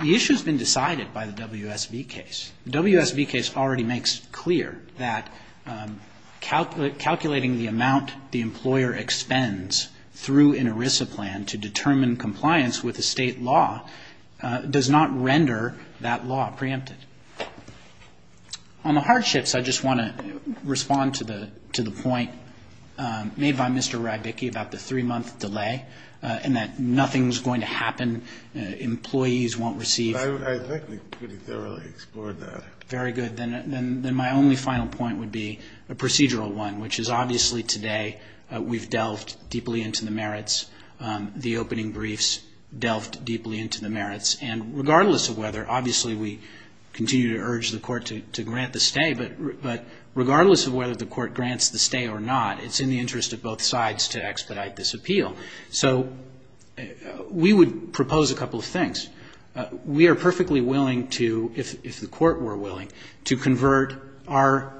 the issue has been decided by the WSB case. The WSB case already makes clear that calculating the amount the employer expends through an ERISA plan to determine compliance with a State law does not render that law preempted. On the hardships, I just want to respond to the point made by Mr. Rybicki about the three-month delay and that nothing's going to happen, employees won't receive the benefits. I think he thoroughly explored that. Very good. Then my only final point would be a procedural one, which is obviously today we've delved deeply into the merits, the opening briefs delved deeply into the merits, and regardless of whether, obviously we continue to urge the court to grant the stay, but regardless of whether the court grants the stay or not, it's in the interest of both sides to expedite this appeal. So we would propose a couple of things. We are perfectly willing to, if the court were willing, to convert our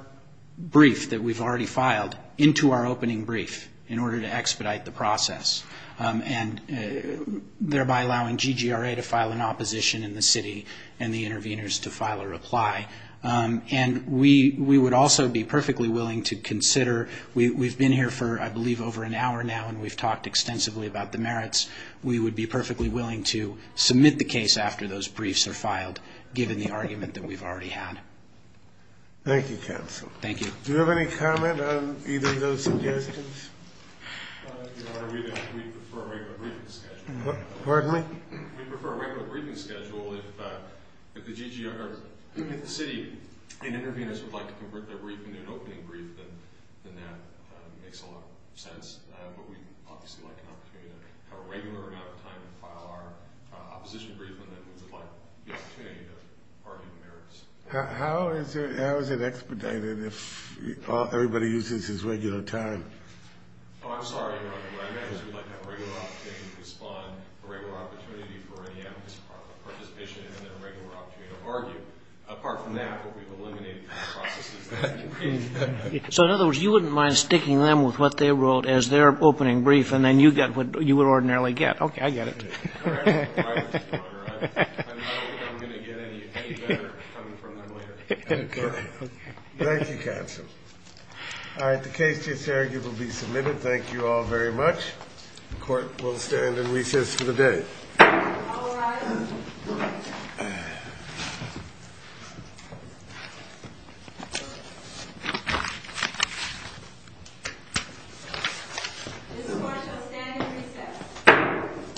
brief that we've already filed into our opening brief in order to expedite the process, and thereby allowing GGRA to file an opposition in the city and the interveners to file a reply. And we would also be perfectly willing to consider, we've been here for, I believe, over an hour now, and we've talked extensively about the merits, we would be perfectly willing to submit the case after those briefs are filed, given the argument that we've already had. Do you have any comment on either of those suggestions? Pardon me? We prefer a regular briefing schedule. If the city and interveners would like to convert their briefing to an opening brief, then that makes a lot of sense. But we'd obviously like an opportunity to have a regular amount of time to file our opposition brief, and then we'd like the opportunity to argue the merits. How is it expedited if everybody uses his regular time? Oh, I'm sorry, Your Honor, what I meant was we'd like to have a regular opportunity to respond, a regular opportunity for any amicus participation, and then a regular opportunity to argue. Apart from that, what we've eliminated from the process is the opening brief. So in other words, you wouldn't mind sticking them with what they wrote as their opening brief, and then you get what you would ordinarily get. Okay, I get it. I'm not going to get any better coming from them later. Thank you, Counsel. All right, the case is here. It will be submitted. Thank you all very much. The Court will stand in recess for the day.